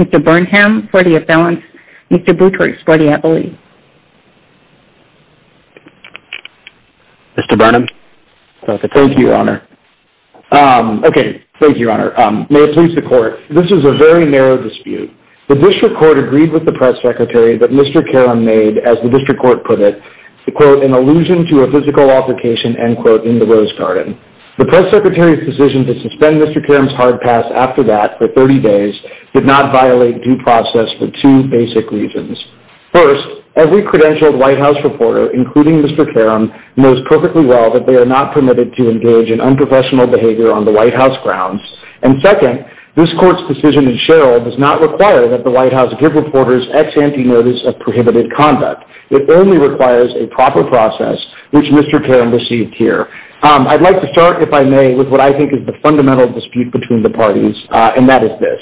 Mr. Burnham for the Appellants, Mr. Butchart for the Appellees. May it please the Court, this is a very narrow dispute. The District Court agreed with the Press Secretary that Mr. Karem made, as the District Court put it, an allusion to a physical application in the Rose Garden. The Press Secretary's decision to suspend Mr. Karem's hard pass after that for 30 days did not violate due process for two basic reasons. First, every credentialed White House reporter, including Mr. Karem, knows perfectly well that they are not permitted to engage in unprofessional behavior on the White House grounds. And second, this Court's decision in Sherriff does not require that the White House give reporters ex ante notice of prohibited conduct. It only requires a proper process, which Mr. Karem received here. I'd like to start, if I may, with what I think is the fundamental dispute between the parties, and that is this.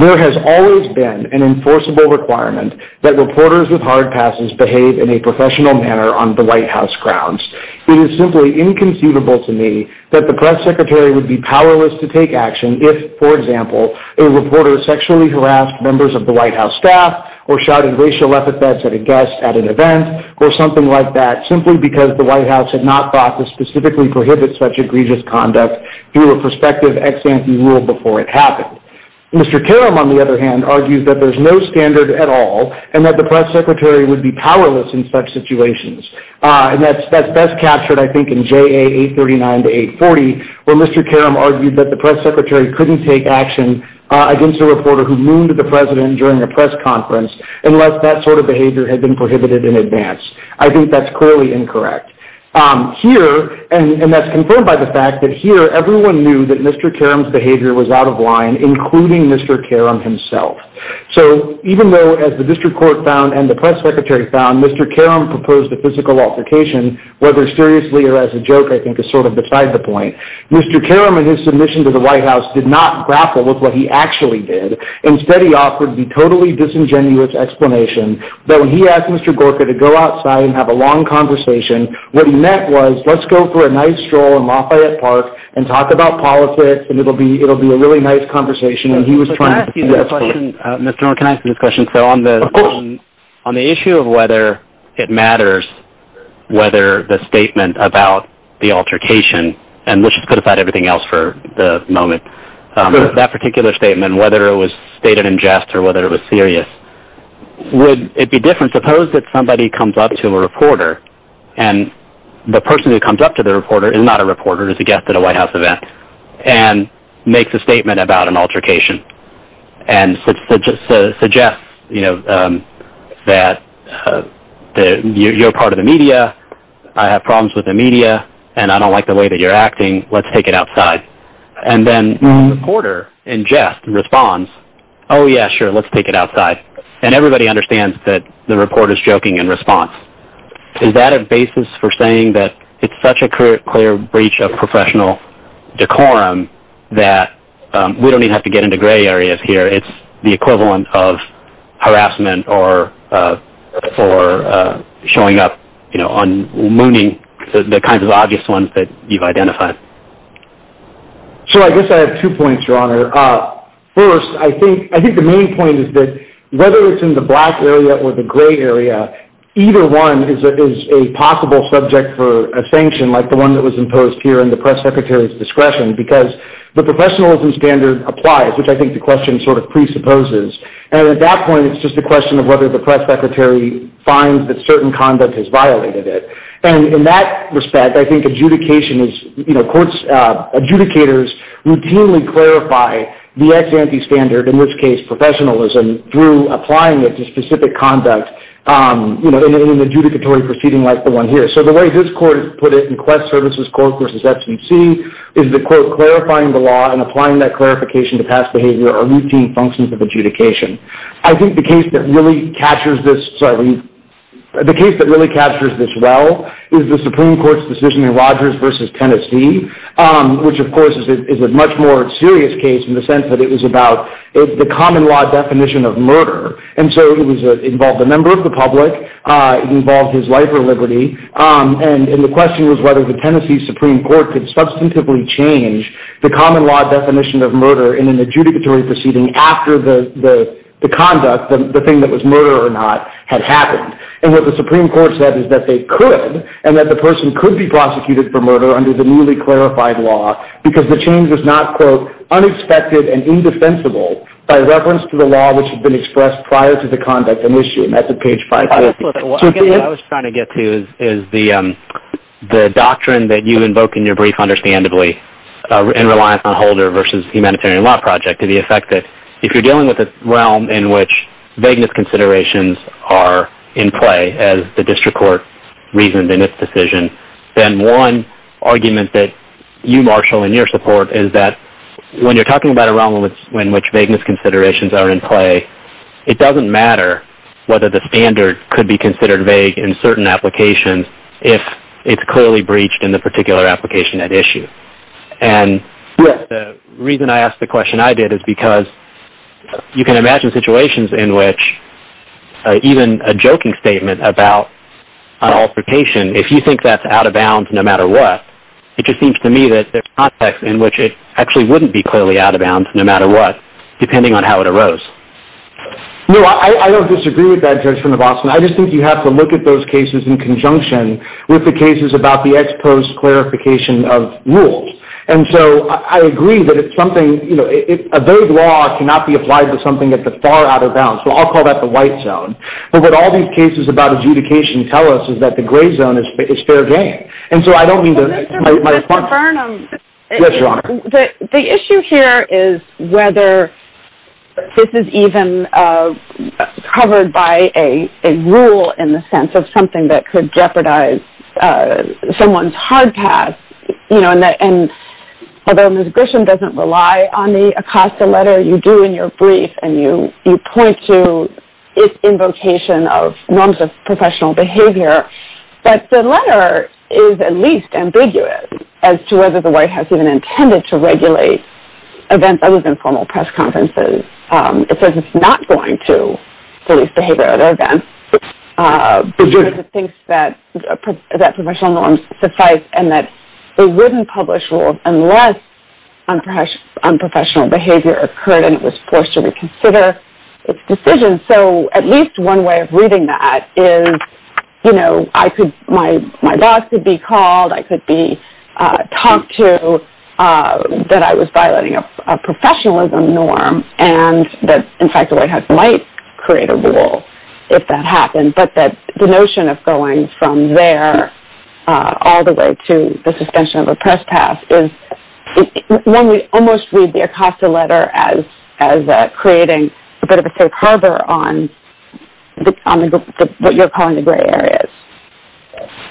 There has always been an enforceable requirement that reporters with hard passes behave in a professional manner on the White House grounds. It is simply inconceivable to me that the Press Secretary would be powerless to take action if, for example, a reporter sexually harassed members of the White House staff, or shouted racial epithets at a guest at an event, or something like that, simply because the White House had not thought to specifically prohibit such egregious conduct through a prospective ex ante rule before it happened. Mr. Karem, on the other hand, argues that there's no standard at all, and that the Press Secretary would be powerless in such situations. And that's best captured, I think, in JA 839 to 840, where Mr. Karem argued that the Press Secretary couldn't take action against a reporter who mooned the President during a press conference, unless that sort of behavior had been prohibited in advance. I think that's clearly incorrect. Here, and that's confirmed by the fact that here, everyone knew that Mr. Karem's behavior was out of line, including Mr. Karem himself. So, even though, as the District Court found and the Press Secretary found, Mr. Karem proposed a physical altercation, whether seriously or as a joke, I think, is sort of beside the point, Mr. Karem, in his submission to the White House, did not grapple with what he actually did. Instead, he offered the totally disingenuous explanation that when he asked Mr. Gorka to go outside and have a long conversation, what he meant was, let's go for a nice stroll in Lafayette Park and talk about politics, and it will be a really nice conversation. Mr. Karem, can I ask you this question? Of course. On the issue of whether it matters whether the statement about the altercation, and let's just put aside everything else for the moment, that particular statement, whether it was stated in jest or whether it was serious, would it be different, suppose that somebody comes up to a reporter, and the person who comes up to the reporter is not a reporter, it's a guest at a White House event, and makes a statement about an altercation, and suggests that you're part of the media, I have problems with the media, and I don't like the way that you're acting, let's take it outside. And then the reporter, in jest, responds, oh yeah, sure, let's take it outside. And everybody understands that the reporter is joking in response. Is that a basis for saying that it's such a clear breach of professional decorum, that we don't even have to get into gray areas here, it's the equivalent of harassment or showing up on mooning, the kinds of obvious ones that you've identified. Sure, I guess I have two points, Your Honor. First, I think the main point is that whether it's in the black area or the gray area, either one is a possible subject for a sanction, like the one that was imposed here in the press secretary's discretion, because the professionalism standard applies, which I think the question sort of presupposes, and at that point it's just a question of whether the press secretary finds that certain conduct has violated it. And in that respect, I think adjudication is, you know, adjudicators routinely clarify the ex-ante standard, in which case professionalism, through applying it to specific conduct, you know, in an adjudicatory proceeding like the one here. So the way this court put it in Quest Services Court v. FCC is that, quote, clarifying the law and applying that clarification to past behavior are routine functions of adjudication. I think the case that really captures this well is the Supreme Court's decision in Rogers v. Tennessee, which, of course, is a much more serious case in the sense that it was about the common law definition of murder, and so it involved a member of the public, it involved his life or liberty, and the question was whether the Tennessee Supreme Court could substantively change the common law definition of murder in an adjudicatory proceeding after the conduct, the thing that was murder or not, had happened. And what the Supreme Court said is that they could, and that the person could be prosecuted for murder under the newly clarified law because the change is not, quote, prior to the conduct in this unit, that's at page 5. What I was trying to get to is the doctrine that you invoked in your brief, understandably, in Reliance on a Holder v. Humanitarian Law Project, to the effect that if you're dealing with a realm in which vagueness considerations are in play, as the district court reasoned in its decision, then one argument that you marshal in your support is that when you're talking about a realm in which vagueness considerations are in play, it doesn't matter whether the standard could be considered vague in certain applications if it's clearly breached in the particular application at issue. And the reason I asked the question I did is because you can imagine situations in which even a joking statement about an altercation, if you think that's out of bounds no matter what, it just seems to me that there's context in which it actually wouldn't be clearly out of bounds no matter what, depending on how it arose. No, I don't disagree with that, Judge from the Boston. I just think you have to look at those cases in conjunction with the cases about the ex post clarification of rules. And so I agree that it's something, you know, a vague law cannot be applied to something that's far out of bounds. Well, I'll call that the white zone. But what all these cases about adjudication tell us is that the gray zone is fair game. And so I don't need to make my point. Mr. Burnham. Yes, Your Honor. The issue here is whether this is even covered by a rule in the sense of something that could jeopardize someone's hard path. You know, and although Ms. Grisham doesn't rely on the ACOSTA letter, you do in your brief and you point to invocation of norms of professional behavior, that the letter is at least ambiguous as to whether the White House even intended to regulate events other than formal press conferences. It says it's not going to police behavioral events because it thinks that professional norms suffice and that it wouldn't publish rules unless unprofessional behavior occurred and it was forced to reconsider its decision. And so at least one way of reading that is, you know, my boss could be called, I could be talked to that I was violating a professionalism norm and that, in fact, the White House might create a rule if that happened. But the notion of going from there all the way to the suspension of a press pass is, one would almost read the ACOSTA letter as creating a bit of a safe harbor on what you're calling the gray areas.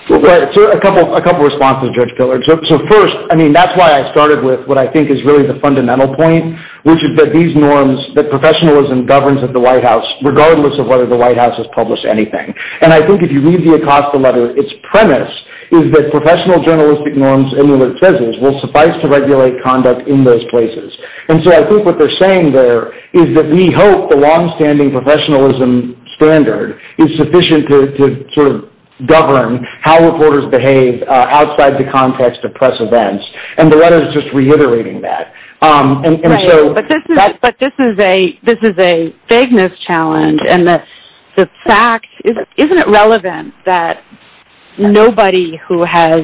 So a couple of responses, Judge Pillard. So first, I mean, that's why I started with what I think is really the fundamental point, which is that these norms that professionalism governs at the White House, regardless of whether the White House has published anything. And I think if you read the ACOSTA letter, its premise is that professional journalistic norms and their presences will suffice to regulate conduct in those places. And so I think what they're saying there is that we hope the longstanding professionalism standard is sufficient to govern how reporters behave outside the context of press events. And the letter is just reiterating that. But this is a big mischallenge. And the fact, isn't it relevant that nobody who has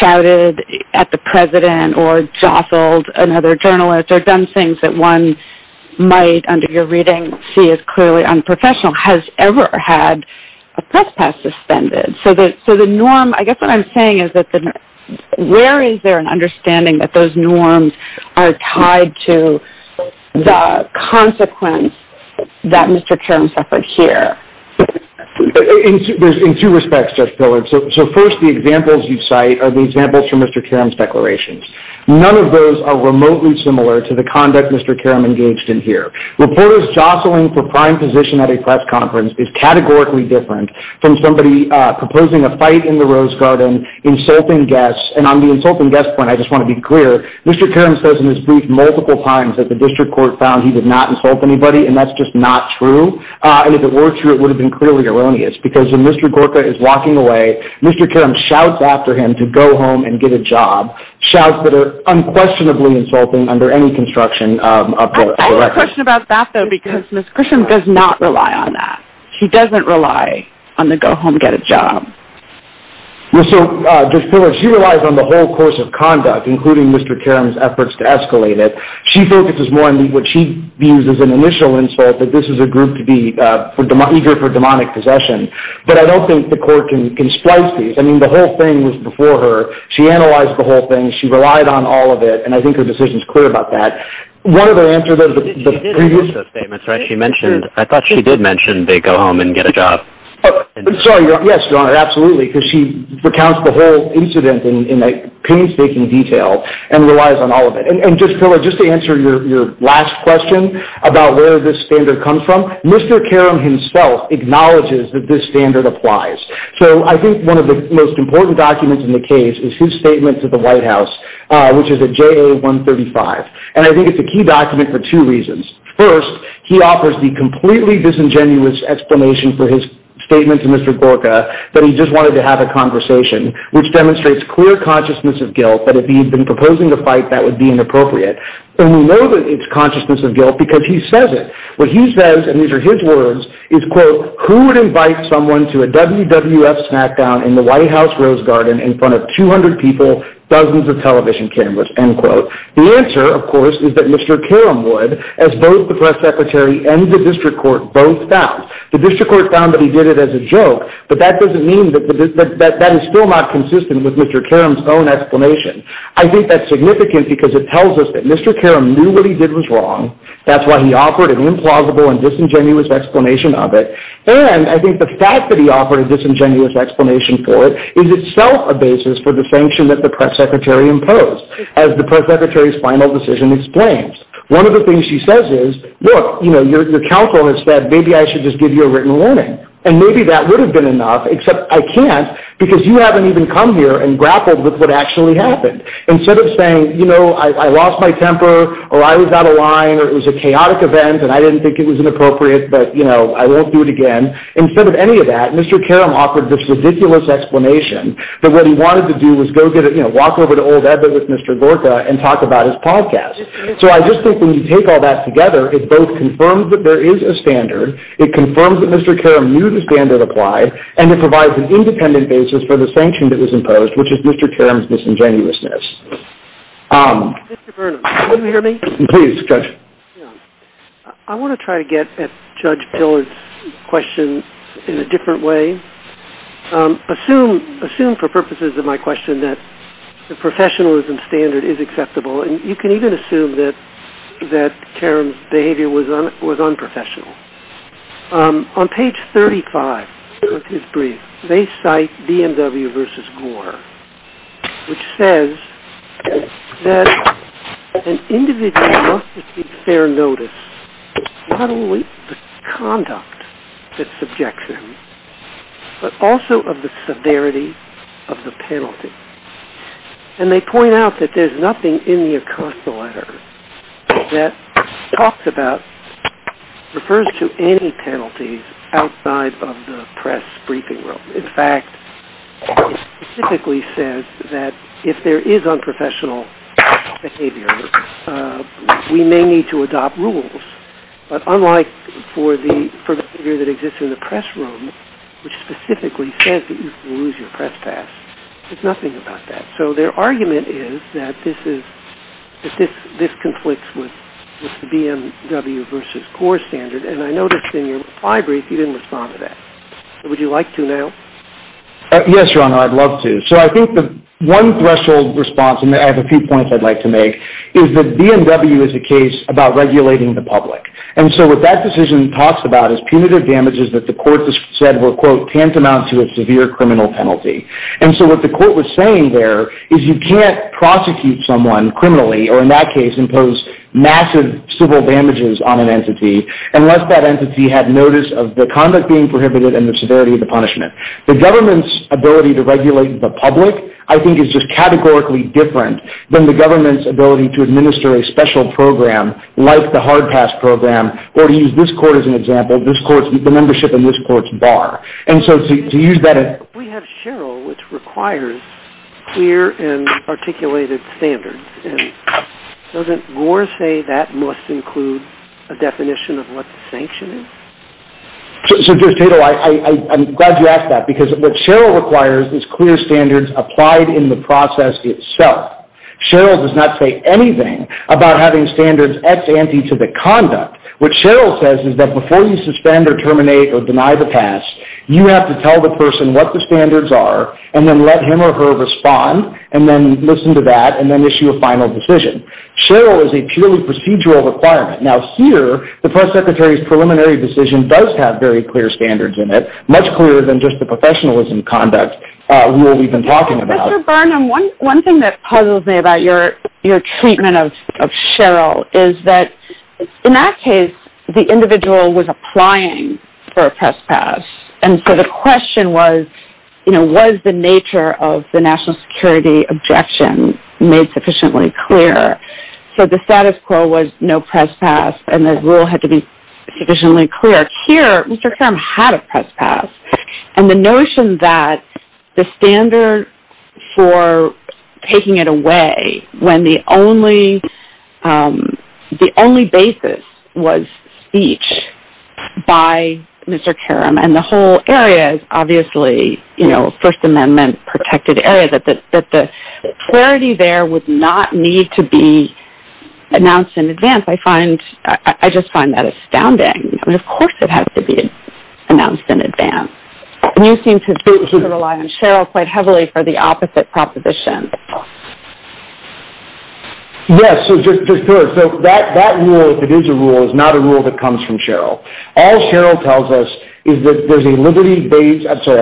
shouted at the president or jostled another journalist or done things that one might, under your reading, see as clearly unprofessional has ever had a press pass suspended? So the norm, I guess what I'm saying is that where is there an understanding that those norms are tied to the consequence that Mr. Karam's efforts here? In two respects, Judge Pillard. So first, the examples you cite are the examples from Mr. Karam's declarations. None of those are remotely similar to the conduct Mr. Karam engaged in here. Reporters jostling for prime position at a press conference is categorically different from somebody proposing a fight in the Rose Garden, insulting guests. And on the insulting guests point, I just want to be clear, Mr. Karam says in his speech multiple times that the district court found he would not insult anybody, and that's just not true. And if it were true, it would have been clearly erroneous. Because when Mr. Gorka is walking away, Mr. Karam shouts after him to go home and get a job. Shouts that are unquestionably insulting under any construction up here. I have a question about that, though, because Ms. Christian does not rely on that. She doesn't rely on the go-home-get-a-job. She relies on the whole course of conduct, including Mr. Karam's efforts to escalate it. She focuses more on what she views as an initial insult, that this is a group eager for demonic possession. But I don't think the court can splice these. I mean, the whole thing was before her. She analyzed the whole thing. She relied on all of it, and I think her decision is clear about that. One of the answers of the previous— She did mention they go home and get a job. I'm sorry. Yes, Your Honor, absolutely. Because she recounts the whole incident in painstaking detail and relies on all of it. And just to answer your last question about where this standard comes from, Mr. Karam himself acknowledges that this standard applies. So I think one of the most important documents in the case is his statement to the White House, which is at JA 135. And I think it's a key document for two reasons. First, he offers the completely disingenuous explanation for his statement to Mr. Gorka that he just wanted to have a conversation, which demonstrates clear consciousness of guilt that if he had been proposing to fight, that would be inappropriate. And we know that it's consciousness of guilt because he says it. What he says, and these are his words, is, quote, who would invite someone to a WWF smackdown in the White House Rose Garden in front of 200 people, dozens of television cameras, end quote. The answer, of course, is that Mr. Karam would, as both the press secretary and the district court both found. The district court found that he did it as a joke, but that doesn't mean that that is still not consistent with Mr. Karam's own explanation. I think that's significant because it tells us that Mr. Karam knew what he did was wrong. That's why he offered an implausible and disingenuous explanation of it. And I think the fact that he offered a disingenuous explanation for it is itself a basis for the sanction that the press secretary imposed. As the press secretary's final decision explains. One of the things she says is, look, you know, your counsel has said, maybe I should just give you a written warning. And maybe that would have been enough, except I can't, because you haven't even come here and grappled with what actually happened. Instead of saying, you know, I lost my temper or I was out of line or it was a chaotic event and I didn't think it was inappropriate, but, you know, I won't do it again. Instead of any of that, Mr. Karam offered this ridiculous explanation that what he wanted to do was go give it, you know, walk over to Old Ebber with Mr. Lorca and talk about his podcast. So I just think when you take all that together, it both confirms that there is a standard, it confirms that Mr. Karam knew the standard applied, and it provides an independent basis for the sanction that was imposed, which is Mr. Karam's disingenuousness. Mr. Burnham, can you hear me? Please, Judge. I want to try to get at Judge Gillard's question in a different way. Assume for purposes of my question that the professionalism standard is acceptable, and you can even assume that Karam's behavior was unprofessional. On page 35 of his brief, they cite BMW v. Gore, which says that an individual must receive fair notice, not only of the conduct that subjects him, but also of the severity of the penalty. And they point out that there's nothing in the account letter that talks about, refers to any penalties outside of the press briefing room. In fact, it specifically says that if there is unprofessional behavior, we may need to adopt rules. But unlike for the behavior that exists in the press room, which specifically says that you can use your press pass, there's nothing about that. So their argument is that this conflicts with the BMW v. Gore standard, and I noticed in your brief you didn't respond to that. Would you like to now? Yes, Ron, I'd love to. So I think the one threshold response, and I have a few points I'd like to make, is that BMW is a case about regulating the public. And so what that decision talks about is punitive damages that the court has said were, quote, tantamount to a severe criminal penalty. And so what the court was saying there is you can't prosecute someone criminally, or in that case impose massive civil damages on an entity, unless that entity had notice of the conduct being prohibited and the severity of the punishment. The government's ability to regulate the public, I think, is just categorically different than the government's ability to administer a special program like the hard pass program, where you use this court as an example, this court's membership, and this court's bar. And so to use that as... We have Sheryl, which requires clear and articulated standards. Doesn't Gore say that must include a definition of what the sanction is? So, Judge Tato, I'm glad you asked that, because what Sheryl requires is clear standards applied in the process itself. Sheryl does not say anything about having standards ex ante to the conduct. What Sheryl says is that before you suspend or terminate or deny the pass, you have to tell the person what the standards are, and then let him or her respond, and then listen to that, and then issue a final decision. Sheryl is a purely procedural requirement. Now, here, the press secretary's preliminary decision does have very clear standards in it, much clearer than just the professionalism conduct where we've been talking about. Mr. Barnum, one thing that puzzles me about your treatment of Sheryl is that, in that case, the individual was applying for a press pass, and so the question was, you know, what is the nature of the national security objection made sufficiently clear? So the status quo was no press pass, and the rule had to be sufficiently clear. Here, Mr. Karam had a press pass, and the notion that the standard for taking it away when the only basis was speech by Mr. Karam, and the whole area is obviously, you know, First Amendment protected area, that the clarity there would not need to be announced in advance. I just find that astounding. Of course it has to be announced in advance. You seem to keep it alive, and Sheryl played heavily for the opposite proposition. Yes. That rule, if it is a rule, is not a rule that comes from Sheryl. All Sheryl tells us is that there's a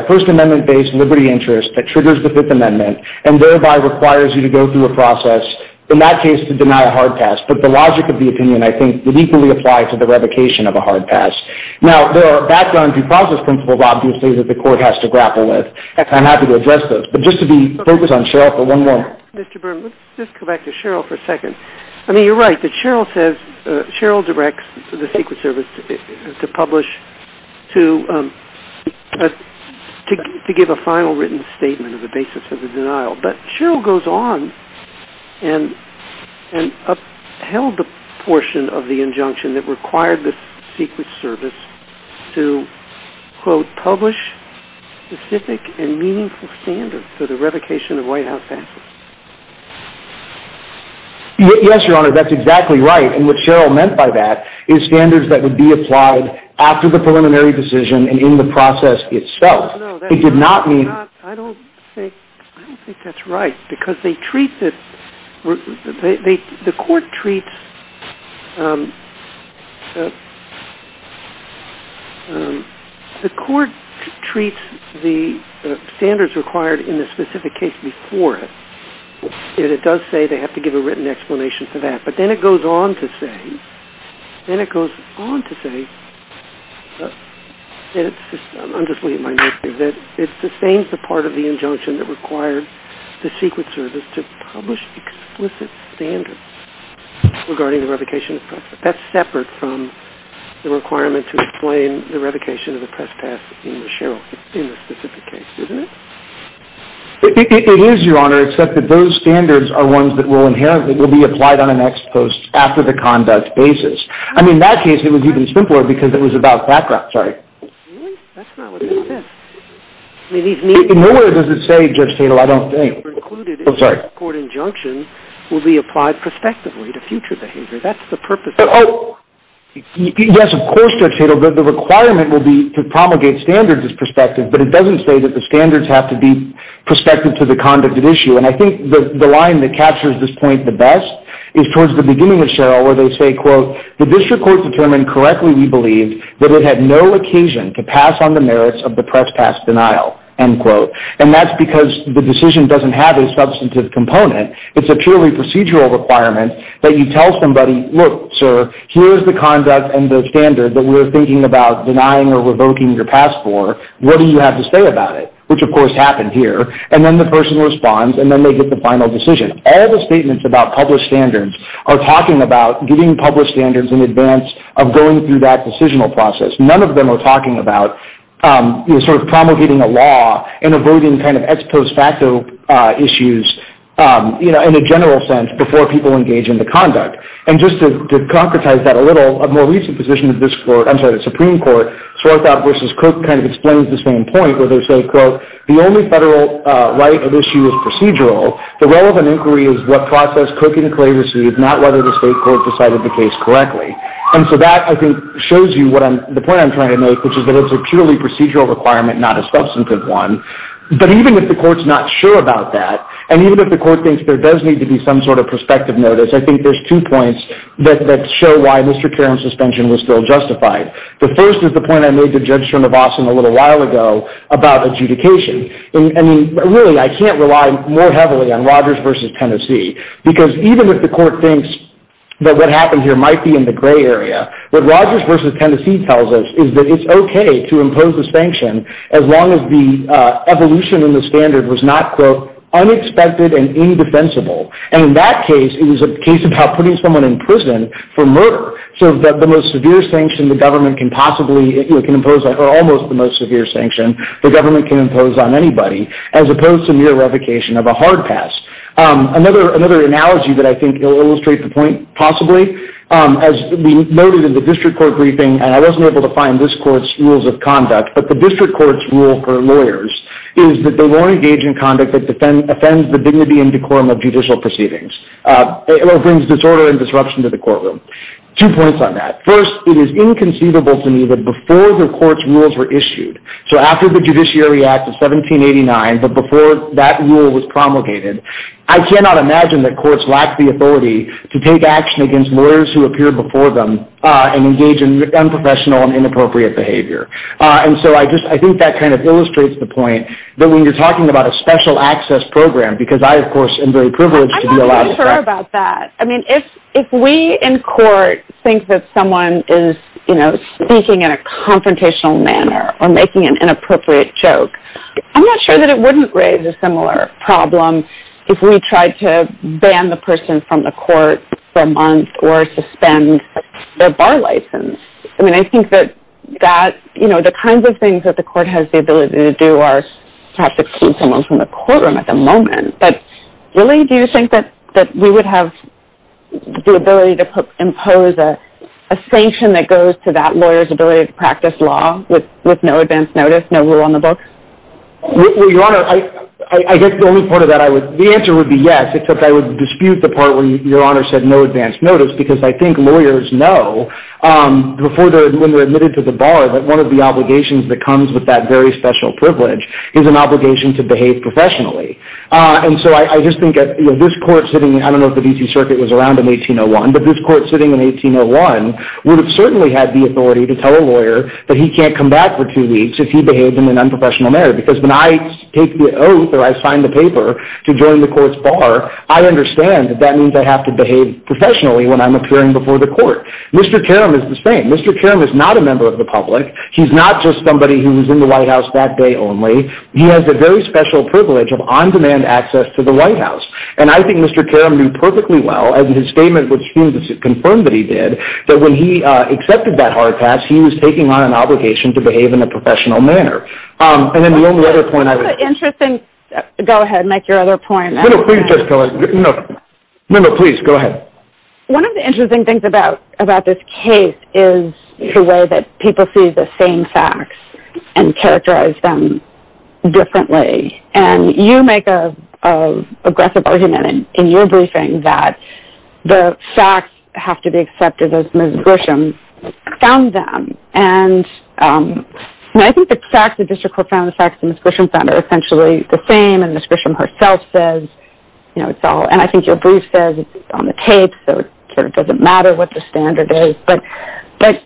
First Amendment-based liberty interest that triggers the Fifth Amendment and thereby requires you to go through a process, in that case, to deny a hard pass. But the logic of the opinion, I think, deeply applies to the revocation of a hard pass. Now, there are background due process principles, obviously, that the court has to grapple with. I'm happy to address those. But just to be focused on Sheryl for one moment. Mr. Byrne, let's go back to Sheryl for a second. I mean, you're right that Sheryl says, Sheryl directs the Secret Service to publish to give a final written statement on the basis of the denial. But Sheryl goes on and upheld the portion of the injunction that required the Secret Service to, quote, publish specific and meaningful standards for the revocation of white house passes. Yes, Your Honor, that's exactly right. And what Sheryl meant by that is standards that would be applied after the preliminary decision and in the process itself. It did not mean- I don't think that's right. The court treats the standards required in the specific case before it. And it does say they have to give a written explanation for that. But then it goes on to say-I'm just reading my notes here-that it sustains the part of the injunction that required the Secret Service to publish explicit standards regarding the revocation of press pass. That's separate from the requirement to explain the revocation of the press pass in the specific case, isn't it? It is, Your Honor, except that those standards are ones that will inherently be applied on an ex post after the conduct basis. I mean, in that case, it was even simpler because it was about background. Really? That's not what it says. In no way does it say, Judge Tatel, I don't think. The court injunction will be applied prospectively to future behavior. That's the purpose of- Yes, of course, Judge Tatel. The requirement will be to promulgate standards as prospective, but it doesn't say that the standards have to be prospective to the conduct at issue. And I think the line that captures this point the best is towards the beginning of Sheryl where they say, the district court determined correctly, we believe, that it had no occasion to pass on the merits of the press pass denial. And that's because the decision doesn't have a substantive component. It's a purely procedural requirement that you tell somebody, look, sir, here's the conduct and the standard that we're thinking about denying or revoking your pass for. What do you have to say about it? Which, of course, happened here. And then the person responds, and then they get the final decision. All the statements about public standards are talking about getting public standards in advance of going through that decisional process. None of them are talking about sort of promulgating a law and avoiding kind of ex post facto issues in a general sense before people engage in the conduct. And just to concretize that a little, a more recent position of this court, I'm sorry, the Supreme Court, Swarthout v. Cook kind of explains this one point where they say, quote, the only federal right at issue is procedural. The role of an inquiry is what process Cook and Cray received, not whether the state court decided the case correctly. And so that, I think, shows you the point I'm trying to make, which is that it's a purely procedural requirement, not a substantive one. But even if the court's not sure about that, and even if the court thinks there does need to be some sort of prospective notice, I think there's two points that show why history of care and suspension was still justified. The first is the point I made to Judge Trimabasum a little while ago about adjudication. And really, I can't rely more heavily on Rogers v. Tennessee, because even if the court thinks that what happened here might be in the gray area, what Rogers v. Tennessee tells us is that it's okay to impose this sanction as long as the evolution in the standard was not, quote, unexpected and indefensible. And in that case, it was a case about putting someone in prison for murder. So the most severe sanction the government can possibly impose, or almost the most severe sanction the government can impose on anybody, as opposed to mere revocation of a hard pass. Another analogy that I think illustrates the point possibly, as we noted in the district court briefing, and I wasn't able to find this court's rules of conduct, but the district court's rule for lawyers is that they won't engage in conduct that offends the dignity and decorum of judicial proceedings. It brings disorder and disruption to the courtroom. Two points on that. First, it is inconceivable to me that before the court's rules were issued, so after the Judiciary Act of 1789, but before that rule was promulgated, I cannot imagine that courts lacked the authority to take action against lawyers who appeared before them and engage in unprofessional and inappropriate behavior. And so I think that kind of illustrates the point that when you're talking about a special access program, because I, of course, am very privileged to be allowed to. I'm not sure about that. I mean, if we in court think that someone is speaking in a confrontational manner or making an inappropriate joke, I'm not sure that it wouldn't raise a similar problem if we tried to ban the person from the court for a month or suspend their bar license. I mean, I think that the kinds of things that the court has the ability to do are to have to keep someone from the courtroom at the moment. But really, do you think that we would have the ability to impose a sanction that goes to that lawyer's ability to practice law with no advance notice, no rule on the books? Well, Your Honor, I think the only part of that I would, the answer would be yes, except I would dispute the part where Your Honor said no advance notice, because I think lawyers know before they're admitted to the bar that one of the obligations that comes with that very special privilege is an obligation to behave professionally. And so I just think that this court sitting, I don't know if the D.C. Circuit was around in 1801, but this court sitting in 1801 would certainly have the authority to tell a lawyer that he can't come back for two weeks if he behaves in an unprofessional manner. Because when I take the oath or I sign the paper to join the court's bar, I understand that that means I have to behave professionally when I'm appearing before the court. Mr. Karam is the same. Mr. Karam is not a member of the public. He's not just somebody who was in the White House that day only. He has a very special privilege of on-demand access to the White House. And I think Mr. Karam knew perfectly well in his statement, which he confirmed that he did, that when he accepted that hard pass, he was taking on an obligation to behave in a professional manner. And then the only other point I would... Interesting. Go ahead and make your other point. No, no, please just go ahead. No, no, please, go ahead. One of the interesting things about this case is the way that people see the same facts and characterize them differently. And you make an aggressive argument in your briefing that the facts have to be accepted as Ms. Gwisham found them. And I think the facts, the district court found the facts that Ms. Gwisham found are essentially the same, and Ms. Gwisham herself says, you know, it's all... And I think your brief says it's on the tapes, so it sort of doesn't matter what the standard is. But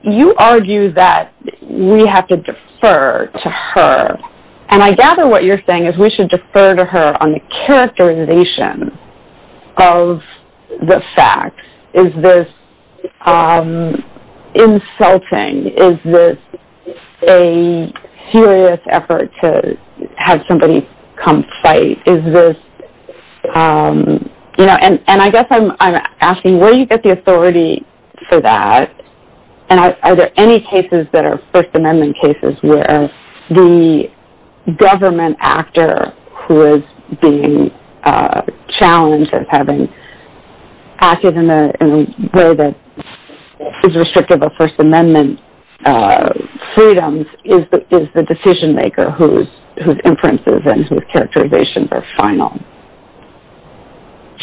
you argue that we have to defer to her. And I gather what you're saying is we should defer to her on the characterization of the facts. Is this insulting? Is this a fearless effort to have somebody come fight? Is this, you know, and I guess I'm asking, where do you get the authority for that? And are there any cases that are First Amendment cases where the government actor who is being challenged of having acted in a way that is restrictive of First Amendment freedoms is the decision-maker whose inferences and whose characterizations are final?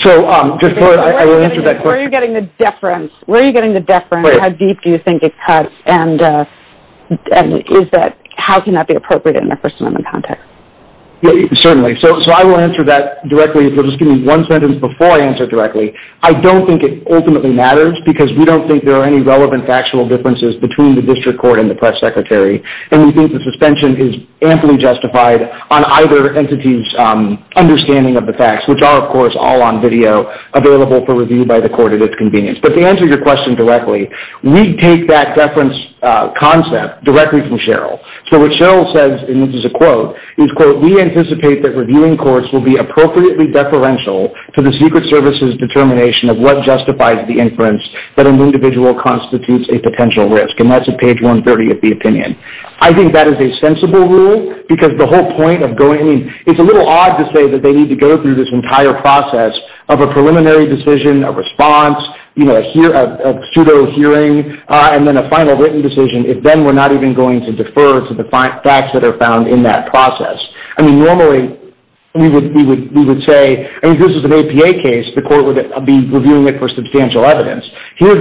So I will answer that question. Where are you getting the deference? Where are you getting the deference? How deep do you think it cuts? And is that, how can that be appropriate in the First Amendment context? Certainly. So I will answer that directly. Just give me one sentence before I answer directly. I don't think it ultimately matters because we don't think there are any relevant factual differences between the district court and the press secretary. And we think the suspension is amply justified on either entity's understanding of the facts, which are, of course, all on video, available for review by the court at its convenience. But to answer your question directly, we take that deference concept directly from Cheryl. So what Cheryl says, and this is a quote, is, quote, we anticipate that reviewing courts will be appropriately deferential to the Secret Service's determination of what justifies the inference that an individual constitutes a potential risk. And that's at page 130 of the opinion. I think that is a sensible rule because the whole point of going, it's a little odd to say that they need to go through this entire process of a preliminary decision, a response, you know, a pseudo-hearing, and then a final written decision, if then we're not even going to defer to the facts that are found in that process. I mean, normally we would say, I mean, this is an APA case. The court would be reviewing it for substantial evidence. I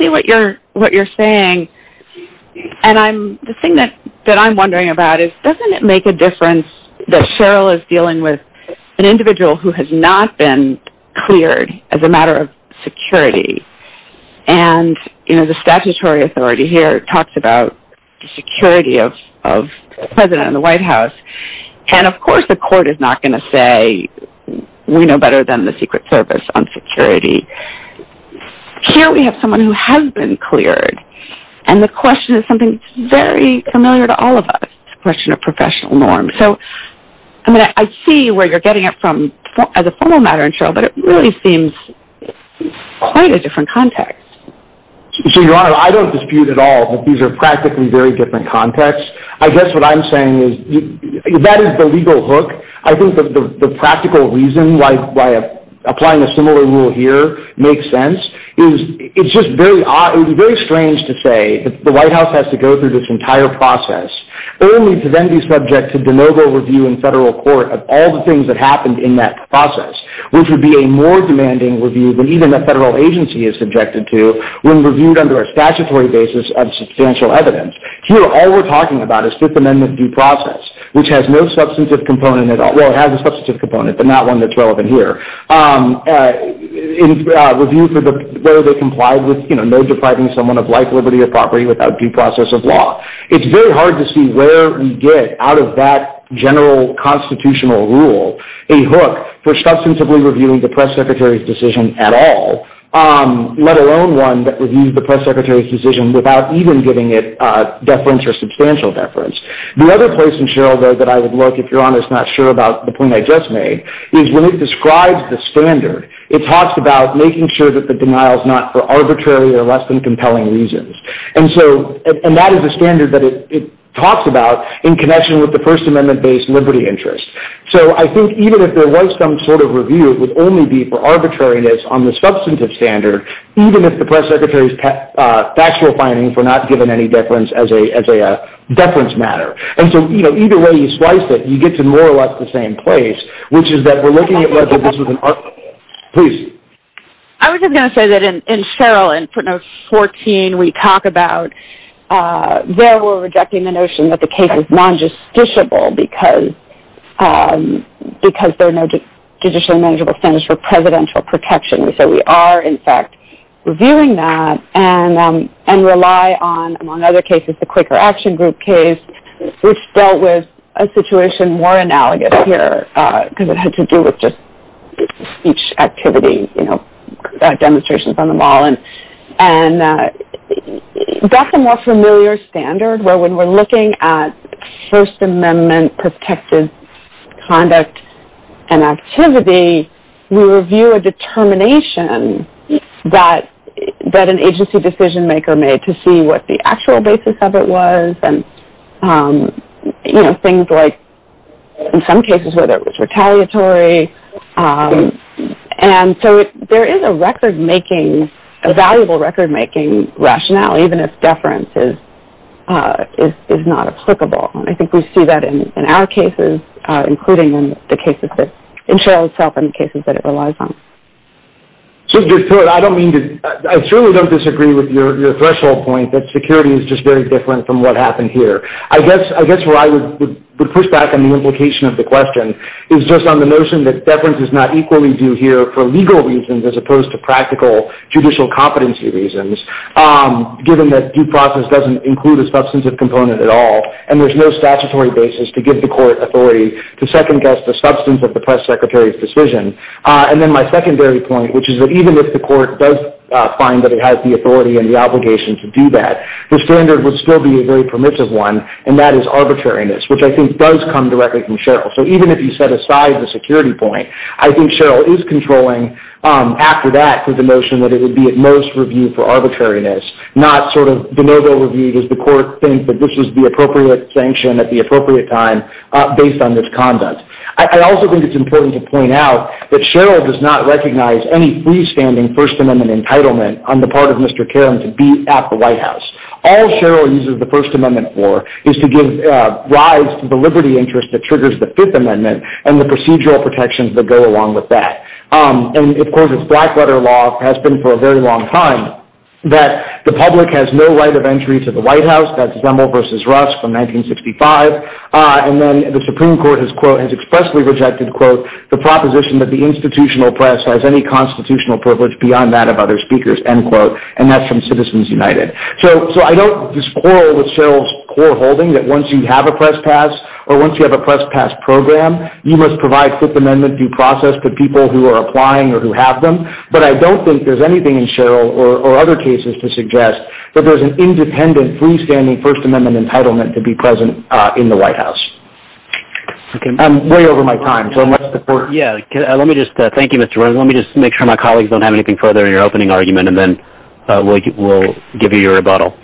see what you're saying. And the thing that I'm wondering about is, doesn't it make a difference that Cheryl is dealing with an individual who has not been cleared as a matter of security? And, you know, the statutory authority here talks about the security of the President and the White House. And, of course, the court is not going to say we know better than the Secret Service on security. Here we have someone who has been cleared, and the question is something that's very familiar to all of us, the question of professional norms. So, I mean, I see where you're getting it from as a formal matter, and Cheryl, but it really seems quite a different context. So, Your Honor, I don't dispute at all that these are practically very different contexts. I guess what I'm saying is that is the legal hook. I think the practical reason why applying a similar rule here makes sense is it's just very odd. It would be very strange to say that the White House has to go through this entire process only to then be subject to de novo review in federal court of all the things that happened in that process, which would be a more demanding review than even a federal agency is subjected to when reviewed under a statutory basis of substantial evidence. Here, all we're talking about is Fifth Amendment due process, which has no substantive component at all. Well, it has a substantive component, but not one that's relevant here. In reviews where they comply with, you know, no depriving someone of life, liberty, or property without due process of law. It's very hard to see where we get out of that general constitutional rule a hook for substantively reviewing the press secretary's decision at all, let alone one that reviews the press secretary's decision without even giving it deference or substantial deference. The other point, Cheryl, that I would like, if you're not sure about the point I just made, is when it describes the standard, it talks about making sure that the denial is not for arbitrary or less than compelling reasons. That is a standard that it talks about in connection with the First Amendment-based liberty interest. So I think even if there was some sort of review, it would only be for arbitrariness on the substantive standard, even if the press secretary's factual findings were not given any deference as a deference matter. And so, you know, either way you slice it, you get to more or less the same place, which is that we're looking at this as an article. Please. I was just going to say that in Cheryl in Part No. 14, we talk about there we're rejecting the notion that the case is non-justiciable because there are no judicially manageable standards for presidential protection. So we are, in fact, reviewing that and rely on, among other cases, the Quaker Action Group case, which dealt with a situation more analogous here because it had to do with just speech activity, you know, demonstrations on the wall. And that's a more familiar standard where when we're looking at First Amendment-protected conduct and activity, we review a determination that an agency decision-maker made to see what the actual basis of it was and, you know, things like in some cases whether it was retaliatory. And so there is a record-making, a valuable record-making rationale, even if deference is not applicable. And I think we see that in our cases, including in the cases that Cheryl set up and the cases that it relies on. Just to be clear, I don't mean to – I certainly don't disagree with your threshold point that security is just very different from what happened here. I guess where I would push back on the implication of the question is just on the notion that deference is not equally due here for legal reasons as opposed to practical judicial competency reasons, given that due process doesn't include a substantive component at all and there's no statutory basis to give the court authority to second-guess the substance of the press secretary's decision. And then my secondary point, which is that even if the court does find that it has the authority and the obligation to do that, the standard would still be a very permissive one, and that is arbitrariness, which I think does come directly from Cheryl. So even if you set aside the security point, I think Cheryl is controlling after that with the notion that it would be at most reviewed for arbitrariness, not sort of the noble view that the court thinks that this is the appropriate sanction at the appropriate time based on this conduct. I also think it's important to point out that Cheryl does not recognize any freestanding First Amendment entitlement on the part of Mr. Caron to be at the White House. All Cheryl uses the First Amendment for is to give rise to the liberty interest that triggers the Fifth Amendment and the procedural protections that go along with that. And, of course, it's back-butter law has been for a very long time that the public has no right of entry to the White House. That's Lemel v. Russ from 1965. And then the Supreme Court has expressly rejected, quote, the proposition that the institutional press has any constitutional privilege beyond that of other speakers, end quote. And that's from Citizens United. So I don't disagree with Cheryl's core holding that once you have a press pass or once you have a press pass program, you must provide Fifth Amendment due process to people who are applying or who have them. But I don't think there's anything in Cheryl or other cases to suggest that there's an independent freestanding First Amendment entitlement to be present in the White House. I'm way over my time. Thank you, Mr. Warren. Let me just make sure my colleagues don't have anything further in their opening argument and then we'll give you your rebuttal.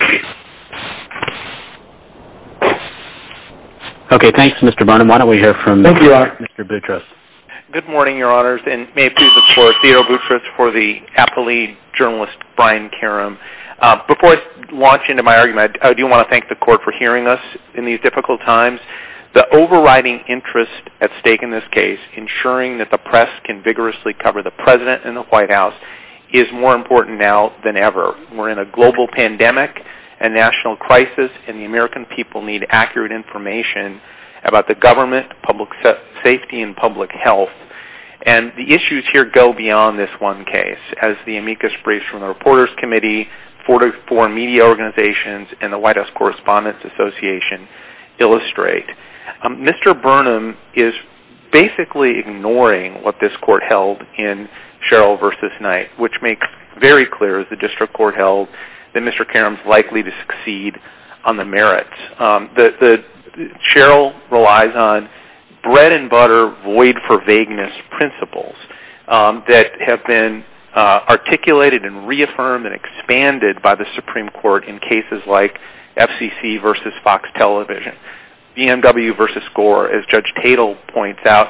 Okay, thanks, Mr. Barnum. Why don't we hear from Mr. Boutros. Good morning, Your Honors, and may it please the Court, Theodore Boutros for the afferly journalist Brian Karam. Before I launch into my argument, I do want to thank the Court for hearing us in these difficult times. The overriding interest at stake in this case, ensuring that the press can vigorously cover the President and the White House, is more important now than ever. We're in a global pandemic, a national crisis, and the American people need accurate information about the government, public safety, and public health. And the issues here go beyond this one case. As the amicus briefs from the Reporters Committee, 44 media organizations, and the White House Correspondents Association illustrate, Mr. Barnum is basically ignoring what this Court held in Sherrill v. Knight, which makes very clear, as the District Court held, that Mr. Karam is likely to succeed on the merits. Sherrill relies on bread-and-butter, void-for-vagueness principles that have been articulated and reaffirmed and expanded by the Supreme Court in cases like FCC v. Fox Television. BMW v. Gore, as Judge Tatel points out,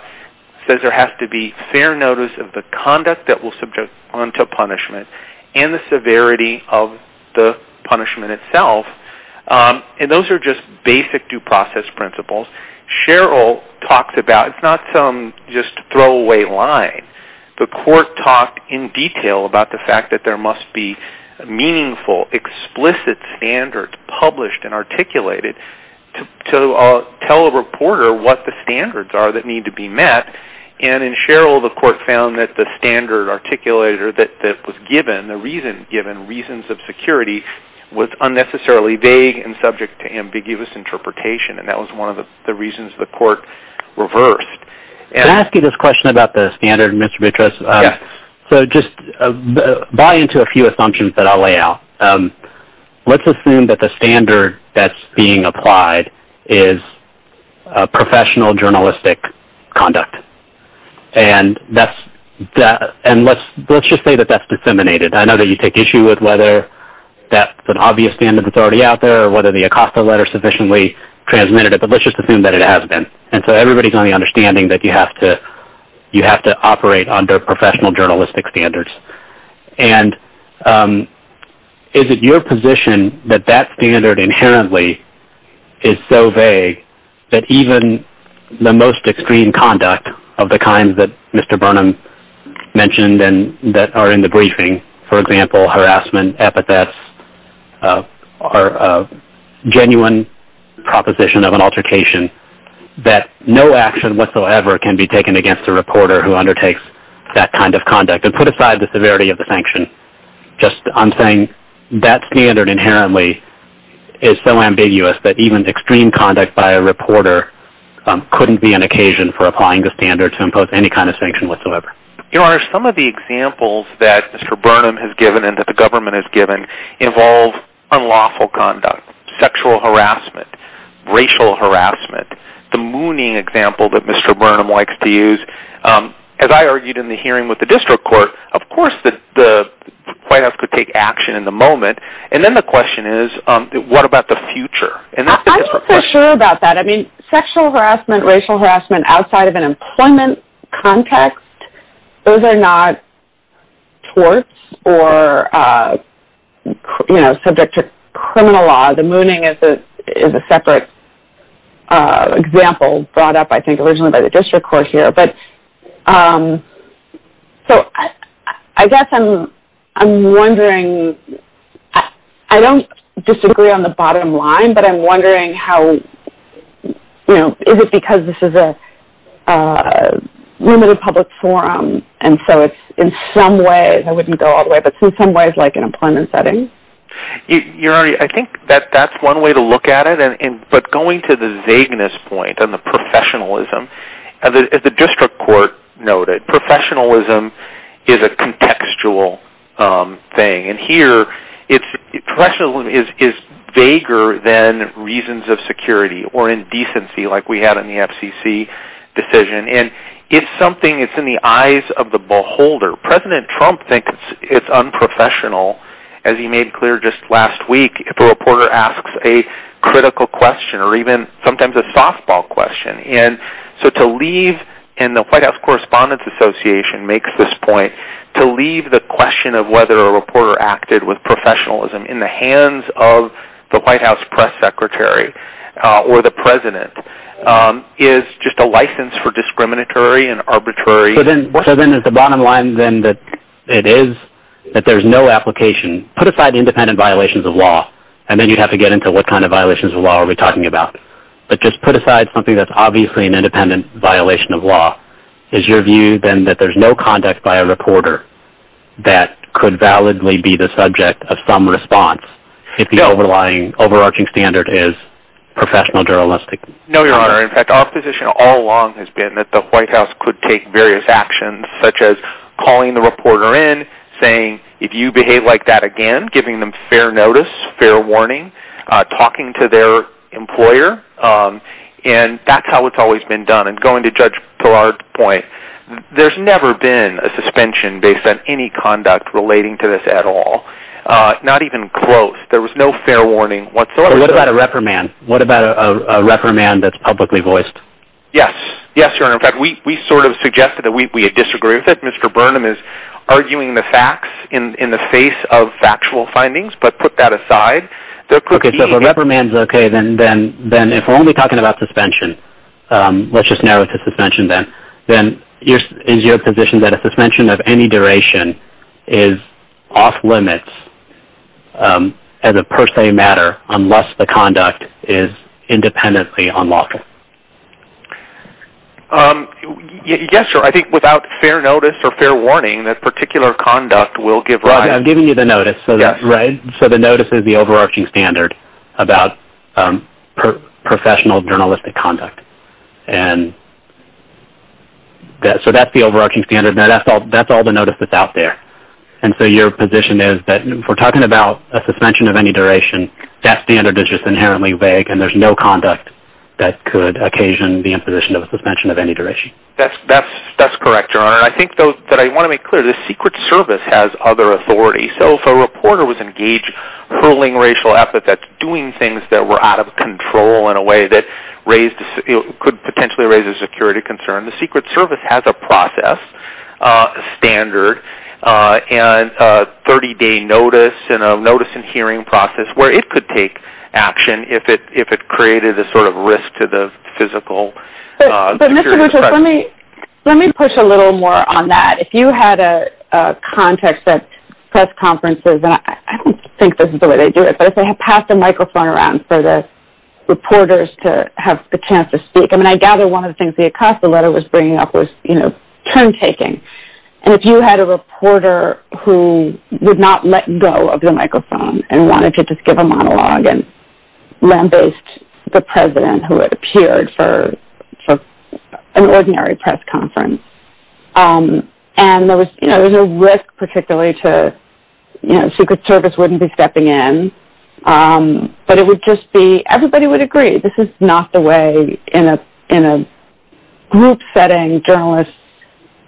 says there has to be fair notice of the conduct that will subject one to punishment and the severity of the punishment itself. And those are just basic due process principles. It's not some just throwaway line. The Court talked in detail about the fact that there must be meaningful, explicit standards published and articulated to tell a reporter what the standards are that need to be met. And in Sherrill, the Court found that the standard articulated that was given, the reason given, reasons of security, was unnecessarily vague and subject to ambiguous interpretation. And that was one of the reasons the Court reversed. Can I ask you this question about the standard, Mr. Beatrice? Yes. So just buy into a few assumptions that I'll lay out. Let's assume that the standard that's being applied is professional journalistic conduct. And let's just say that that's disseminated. I know that you take issue with whether that's an obvious standard that's already out there or whether the ACOSTA letter sufficiently transmitted it, but let's just assume that it has been. And so everybody's only understanding that you have to operate under professional journalistic standards. And is it your position that that standard inherently is so vague that even the most extreme conduct of the kind that Mr. Burnham mentioned and that are in the briefing, for example, harassment, epithets, or a genuine proposition of an altercation, that no action whatsoever can be taken against a reporter who undertakes that kind of conduct and put aside the severity of the sanction? Just I'm saying that standard inherently is so ambiguous that even extreme conduct by a reporter couldn't be an occasion for applying the standard to impose any kind of sanction whatsoever. Your Honor, some of the examples that Mr. Burnham has given and that the government has given involve unlawful conduct, sexual harassment, racial harassment, the mooning example that Mr. Burnham likes to use. As I argued in the hearing with the district court, of course the client has to take action in the moment. And then the question is, what about the future? I'm not so sure about that. Sexual harassment, racial harassment outside of an employment context, those are not torts or subject to criminal law. The mooning is a separate example brought up, I think, originally by the district court here. So I guess I'm wondering, I don't disagree on the bottom line, but I'm wondering how, you know, is it because this is a room in a public forum and so it's in some way, I wouldn't go all the way, but in some ways like an employment setting? Your Honor, I think that's one way to look at it. But going to the vagueness point and the professionalism, the district court noted professionalism is a contextual thing. And here, professionalism is vaguer than reasons of security or indecency like we had in the FCC decision. And it's something that's in the eyes of the beholder. President Trump thinks it's unprofessional, as he made clear just last week, if a reporter asks a critical question or even sometimes a softball question. And so to leave, and the White House Correspondents Association makes this point, to leave the question of whether a reporter acted with professionalism in the hands of the White House press secretary or the president is just a license for discriminatory and arbitrary. So then is the bottom line then that it is that there's no application. Put aside independent violations of law, and then you have to get into what kind of violations of law are we talking about. Is your view then that there's no conduct by a reporter that could validly be the subject of some response if the overarching standard is professional journalistic? No, Your Honor. In fact, the opposition all along has been that the White House could take various actions, such as calling the reporter in, saying, if you behave like that again, giving them fair notice, fair warning, talking to their employer. And that's how it's always been done. And going to Judge Perard's point, there's never been a suspension based on any conduct relating to this at all. Not even close. There was no fair warning whatsoever. What about a reprimand? What about a reprimand that's publicly voiced? Yes. Yes, Your Honor. In fact, we sort of suggested that we disagree. I think Mr. Burnham is arguing the facts in the face of factual findings, but put that aside. Okay, so if a reprimand is okay, then if we're only talking about suspension, let's just narrow it to suspension then, then is your position that a suspension of any duration is off limits as a per se matter unless the conduct is independently unlocking? Yes, Your Honor. I think without fair notice or fair warning, that particular conduct will give rise. I'm giving you the notice. Right. So the notice is the overarching standard about professional journalistic conduct. And so that's the overarching standard. That's all the notice that's out there. And so your position is that if we're talking about a suspension of any duration, that standard is just inherently vague, and there's no conduct that could occasion the imposition of a suspension of any duration. That's correct, Your Honor. I think, though, that I want to make clear, the Secret Service has other authority. So if a reporter was engaged in ruling racial epithets, doing things that were out of control in a way that could potentially raise a security concern, the Secret Service has a process standard and a 30-day notice and a notice and hearing process where it could take action if it created a sort of risk to the physical. But, Mr. Winters, let me push a little more on that. If you had a contact at press conferences, and I don't think this is the way they do it, but if they passed a microphone around for the reporters to have a chance to speak. I mean, I gather one of the things the Acosta letter was bringing up was, you know, turn-taking. And if you had a reporter who did not let go of the microphone and wanted to just give a monologue and lambaste the president who had appeared for an ordinary press conference. And there was, you know, there was a risk particularly to, you know, the Secret Service wouldn't be stepping in, but it would just be everybody would agree. This is not the way in a group setting journalists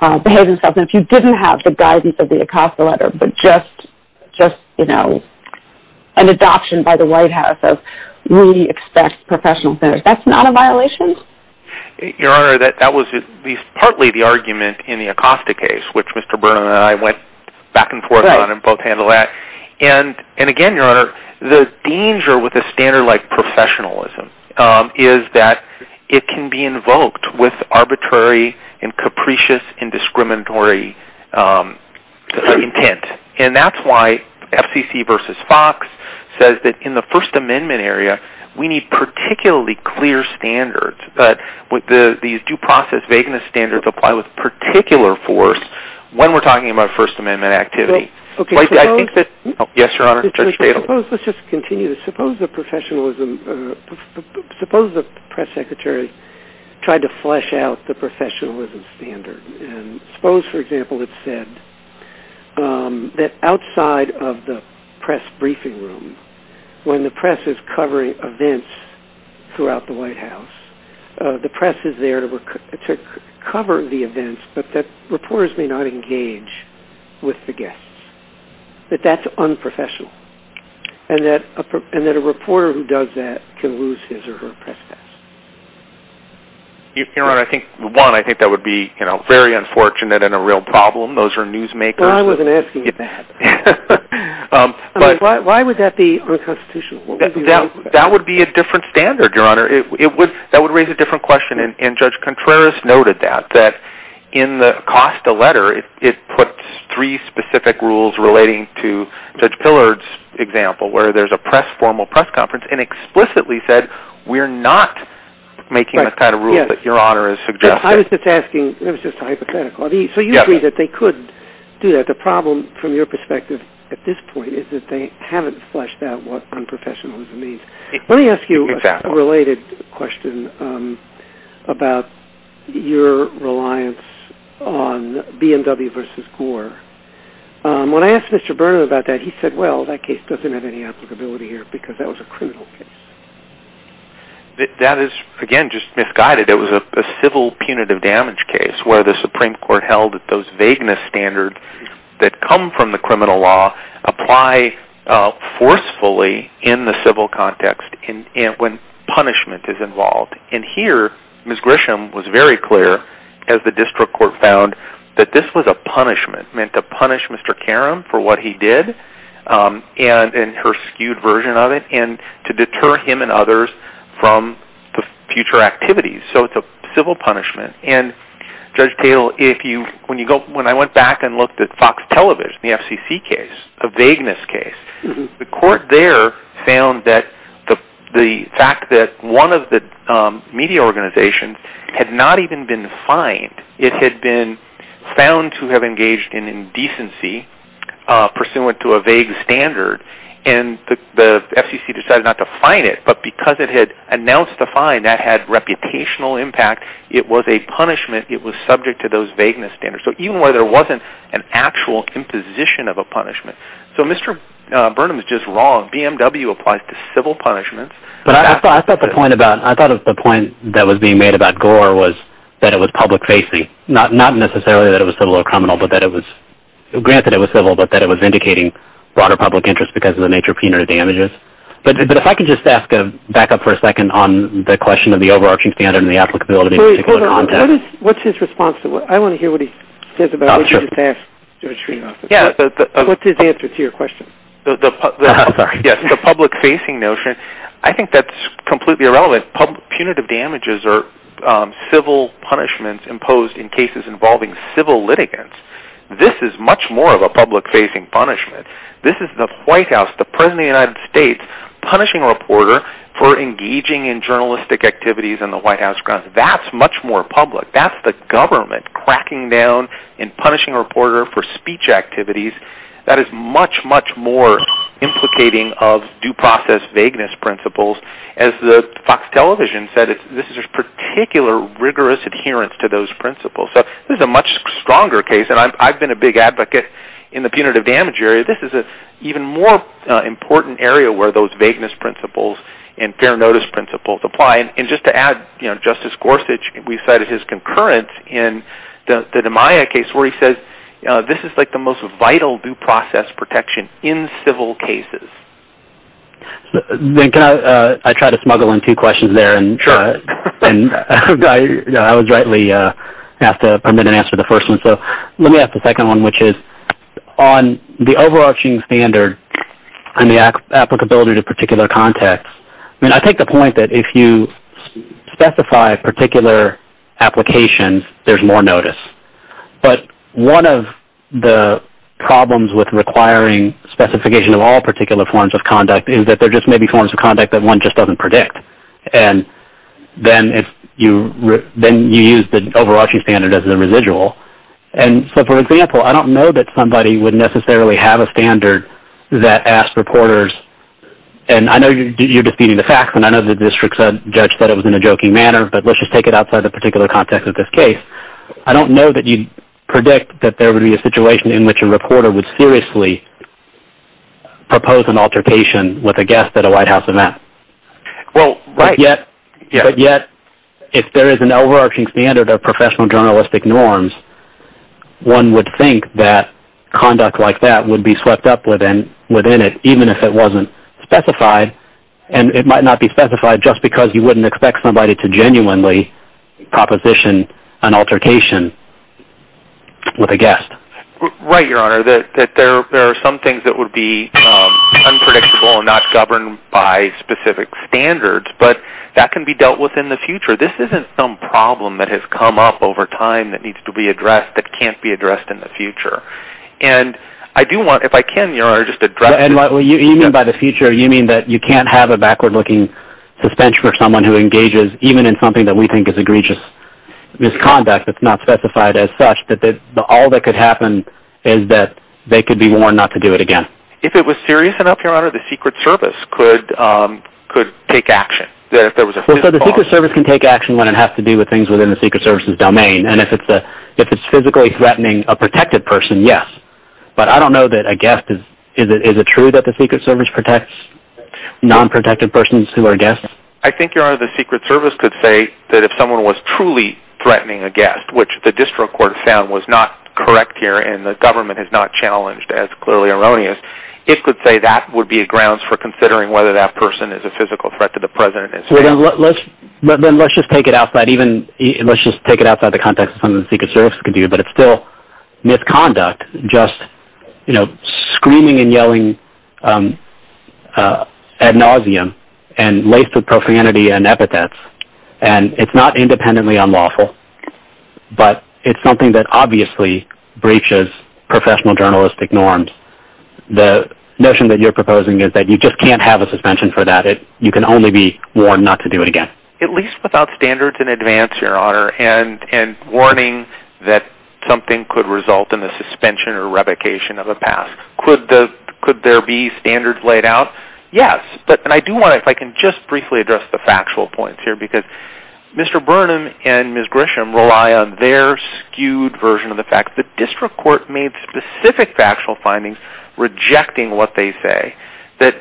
behave themselves. And if you didn't have the guidance of the Acosta letter, but just, you know, an adoption by the White House of really expressed professional standards, that's not a violation? Your Honor, that was at least partly the argument in the Acosta case, which Mr. Burnham and I went back and forth on and both handled that. And again, Your Honor, the danger with a standard like professionalism is that it can be invoked with arbitrary and capricious and discriminatory intent. And that's why FCC versus Fox says that in the First Amendment area, we need particularly clear standards. But these due process vagueness standards apply with particular force when we're talking about First Amendment activity. Yes, Your Honor. Let's just continue. Suppose the press secretary tried to flesh out the professionalism standard. And suppose, for example, it said that outside of the press briefing room, when the press is covering events throughout the White House, the press is there to cover the events, but that reporters may not engage with the guests. That that's unprofessional. And that a reporter who does that can lose his or her press pass. Your Honor, I think, one, I think that would be, you know, very unfortunate and a real problem. Those are newsmakers. Well, I wasn't asking you that. Why would that be unconstitutional? That would be a different standard, Your Honor. That would raise a different question. And Judge Contreras noted that, that in the Costa letter, it puts three specific rules relating to Judge Pillard's example, where there's a formal press conference and explicitly said, we're not making the kind of rules that Your Honor is suggesting. I was just asking. It was just hypothetical. So you agree that they could do that. But the problem, from your perspective, at this point, is that they haven't fleshed out what unprofessionalism means. Let me ask you a related question about your reliance on B&W v. Gore. When I asked Mr. Berner about that, he said, well, that case doesn't have any applicability here because that was a criminal case. That is, again, just misguided. It was a civil punitive damage case where the Supreme Court held that those vagueness standards that come from the criminal law apply forcefully in the civil context when punishment is involved. And here, Ms. Grisham was very clear, as the district court found, that this was a punishment, meant to punish Mr. Karam for what he did and her skewed version of it and to deter him and others from future activities. So it's a civil punishment. And, Judge Tatel, when I went back and looked at Fox Television, the FCC case, a vagueness case, the court there found that the fact that one of the media organizations had not even been defined. It had been found to have engaged in indecency pursuant to a vague standard. And the FCC decided not to find it. But because it had announced the find, that had reputational impact. It was a punishment. It was subject to those vagueness standards. So even where there wasn't an actual imposition of a punishment. So Mr. Burnham is just wrong. BMW applies to civil punishments. I thought the point that was being made about Gore was that it was public-facing, not necessarily that it was civil or criminal, but that it was indicating broader public interest because of the nature of penal damages. But if I could just ask, back up for a second, on the question of the overarching standard and the applicability of particular content. Wait a minute. What's his response? I want to hear what he says about what you just asked. What's his answer to your question? The public-facing notion, I think that's completely irrelevant. Punitive damages are civil punishments imposed in cases involving civil litigants. This is much more of a public-facing punishment. This is the White House, the President of the United States, punishing a reporter for engaging in journalistic activities in the White House grounds. That's much more public. That's the government cracking down and punishing a reporter for speech activities. That is much, much more implicating of due process vagueness principles. As Fox Television said, this is a particular rigorous adherence to those principles. So this is a much stronger case. I've been a big advocate in the punitive damage area. This is an even more important area where those vagueness principles and fair notice principles apply. Just to add, Justice Gorsuch, we cited his concurrence in the Maya case where he says this is like the most vital due process protection in civil cases. I tried to smuggle in two questions there. I was rightly asked to answer the first one. Let me ask the second one, which is on the overarching standard and the applicability to particular context, I take the point that if you specify particular applications, there's more notice. But one of the problems with requiring specification of all particular forms of conduct is that there just may be forms of conduct that one just doesn't predict. Then you use the overarching standard as a residual. For example, I don't know that somebody would necessarily have a standard that asks reporters, and I know you're disputing the facts and I know the district judge said it was in a joking manner, but let's just take it outside the particular context of this case. I don't know that you predict that there would be a situation in which a reporter would seriously propose an altercation with a guest at a White House. But yet, if there is an overarching standard of professional journalistic norms, one would think that conduct like that would be swept up within it, even if it wasn't specified. It might not be specified just because you wouldn't expect somebody to genuinely proposition an altercation with a guest. Right, Your Honor. There are some things that would be unpredictable and not governed by specific standards, but that can be dealt with in the future. This isn't some problem that has come up over time that needs to be addressed that can't be addressed in the future. If I can, Your Honor, just address it. You mean by the future, you mean that you can't have a backward-looking suspension for someone who engages even in something that we think is egregious misconduct that's not specified as such. All that could happen is that they could be warned not to do it again. If it was serious enough, Your Honor, the Secret Service could take action. The Secret Service can take action when it has to do with things within the Secret Service's domain. If it's physically threatening a protected person, yes. But I don't know that a guest is. Is it true that the Secret Service protects non-protected persons who are guests? I think, Your Honor, the Secret Service could say that if someone was truly threatening a guest, which the district court found was not correct here and the government is not challenged as clearly erroneous, it could say that would be grounds for considering whether that person is a physical threat to the President. Let's just take it outside the context of something the Secret Service can do, but it's still misconduct, just screaming and yelling ad nauseum and laced with profanity and epithets. It's not independently unlawful, but it's something that obviously breaches professional journalistic norms. The notion that you're proposing is that you just can't have a suspension for that. You can only be warned not to do it again. At least without standards in advance, Your Honor, and warning that something could result in a suspension or revocation of a pass. Could there be standards laid out? Yes. I do want to just briefly address the factual points here because Mr. Burnham and Ms. Grisham rely on their skewed version of the facts. The district court made specific factual findings rejecting what they say.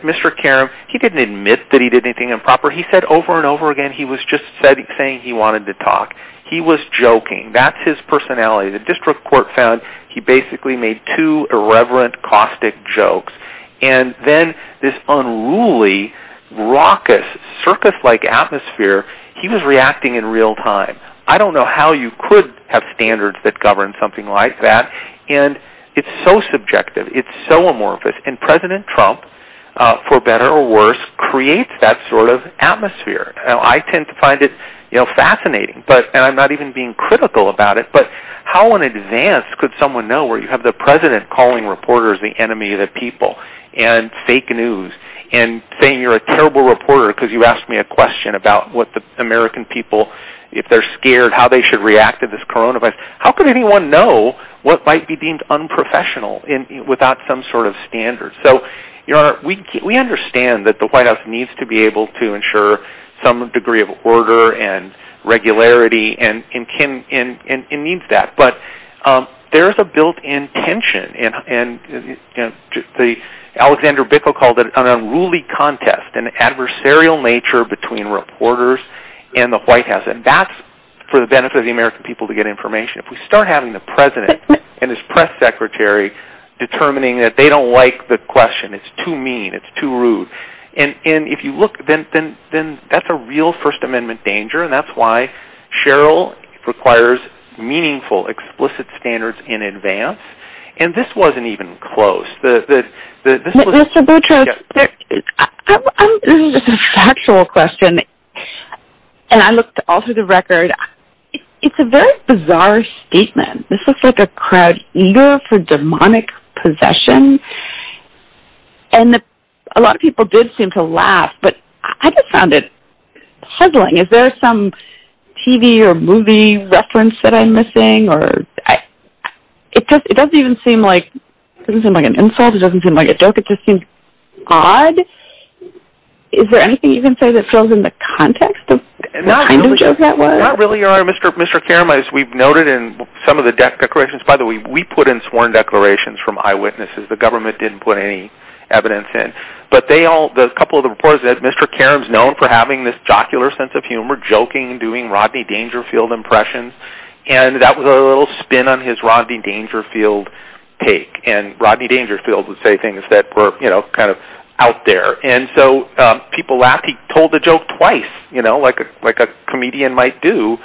Mr. Karam, he didn't admit that he did anything improper. He said over and over again he was just saying he wanted to talk. He was joking. That's his personality. The district court found he basically made two irreverent, caustic jokes. Then this unruly, raucous, circus-like atmosphere, he was reacting in real time. I don't know how you could have standards that govern something like that. It's so subjective. It's so amorphous. President Trump, for better or worse, creates that sort of atmosphere. I tend to find it fascinating. I'm not even being critical about it, but how in advance could someone know where you have the president calling reporters the enemy of the people and fake news and saying you're a terrible reporter because you asked me a question about what the American people, if they're scared how they should react to this coronavirus, how could anyone know what might be deemed unprofessional without some sort of standard? Your Honor, we understand that the White House needs to be able to ensure some degree of order and regularity and it needs that. There's a built-in tension. Alexander Bickel called it an unruly contest, an adversarial nature between reporters and the White House. That's for the benefit of the American people to get information. If we start having the president and his press secretary determining that they don't like the question, it's too mean, it's too rude. If you look, then that's a real First Amendment danger and that's why Cheryl requires meaningful, explicit standards in advance. And this wasn't even close. Mr. Boucher, this is just a factual question and I looked all through the record, it's a very bizarre statement. This looks like a crowd eager for demonic possession and a lot of people did seem to laugh, but I just found it puzzling. Is there some TV or movie reference that I'm missing? It doesn't seem like an insult, it doesn't seem like a joke, it just seems odd. Is there anything you can say that fills in the context? Not really, Your Honor. Mr. Karam, as we've noted in some of the declarations, by the way, we put in sworn declarations from eyewitnesses. The government didn't put any evidence in. Mr. Karam is known for having this jocular sense of humor, joking and doing Rodney Dangerfield impressions. That was a little spin on his Rodney Dangerfield take. Rodney Dangerfield would say things that were kind of out there. People laughed. He told the joke twice, like a comedian might do,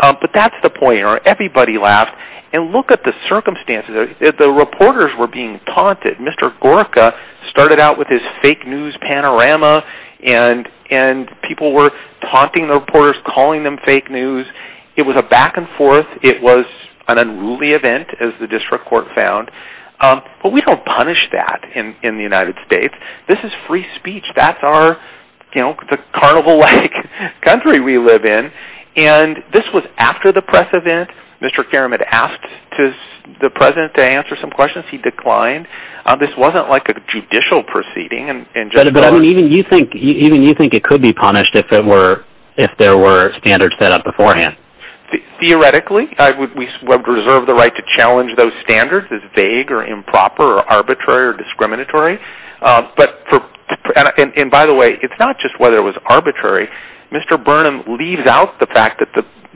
but that's the point. Everybody laughed. Look at the circumstances. The reporters were being taunted. Mr. Gorka started out with his fake news panorama, and people were taunting the reporters, calling them fake news. It was a back and forth. It was an unruly event, as the district court found. But we don't punish that in the United States. This is free speech. That's the carnival-like country we live in. This was after the press event. Mr. Karam had asked the President to answer some questions. He declined. This wasn't like a judicial proceeding. Even you think it could be punished if there were standards set up beforehand? Theoretically. We reserve the right to challenge those standards as vague or improper or arbitrary or discriminatory. By the way, it's not just whether it was arbitrary. Mr. Burnham leaves out the fact that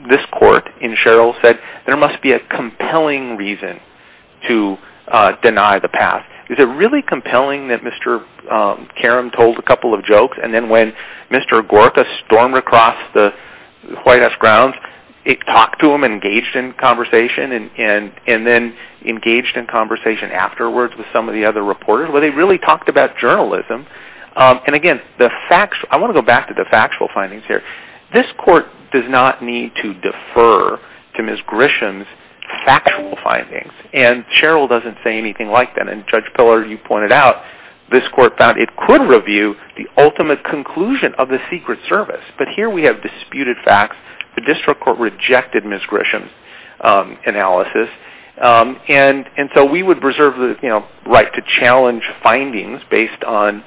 this court in Sherrill said there must be a Is it really compelling that Mr. Karam told a couple of jokes, and then when Mr. Gorka stormed across the White House grounds, it talked to him and engaged in conversation, and then engaged in conversation afterwards with some of the other reporters, where they really talked about journalism. And, again, I want to go back to the factual findings here. This court does not need to defer to Ms. Grisham's factual findings. And Sherrill doesn't say anything like that. And Judge Pillard, you pointed out, this court found it could review the ultimate conclusion of the Secret Service. But here we have disputed facts. The district court rejected Ms. Grisham's analysis. And so we would reserve the right to challenge findings based on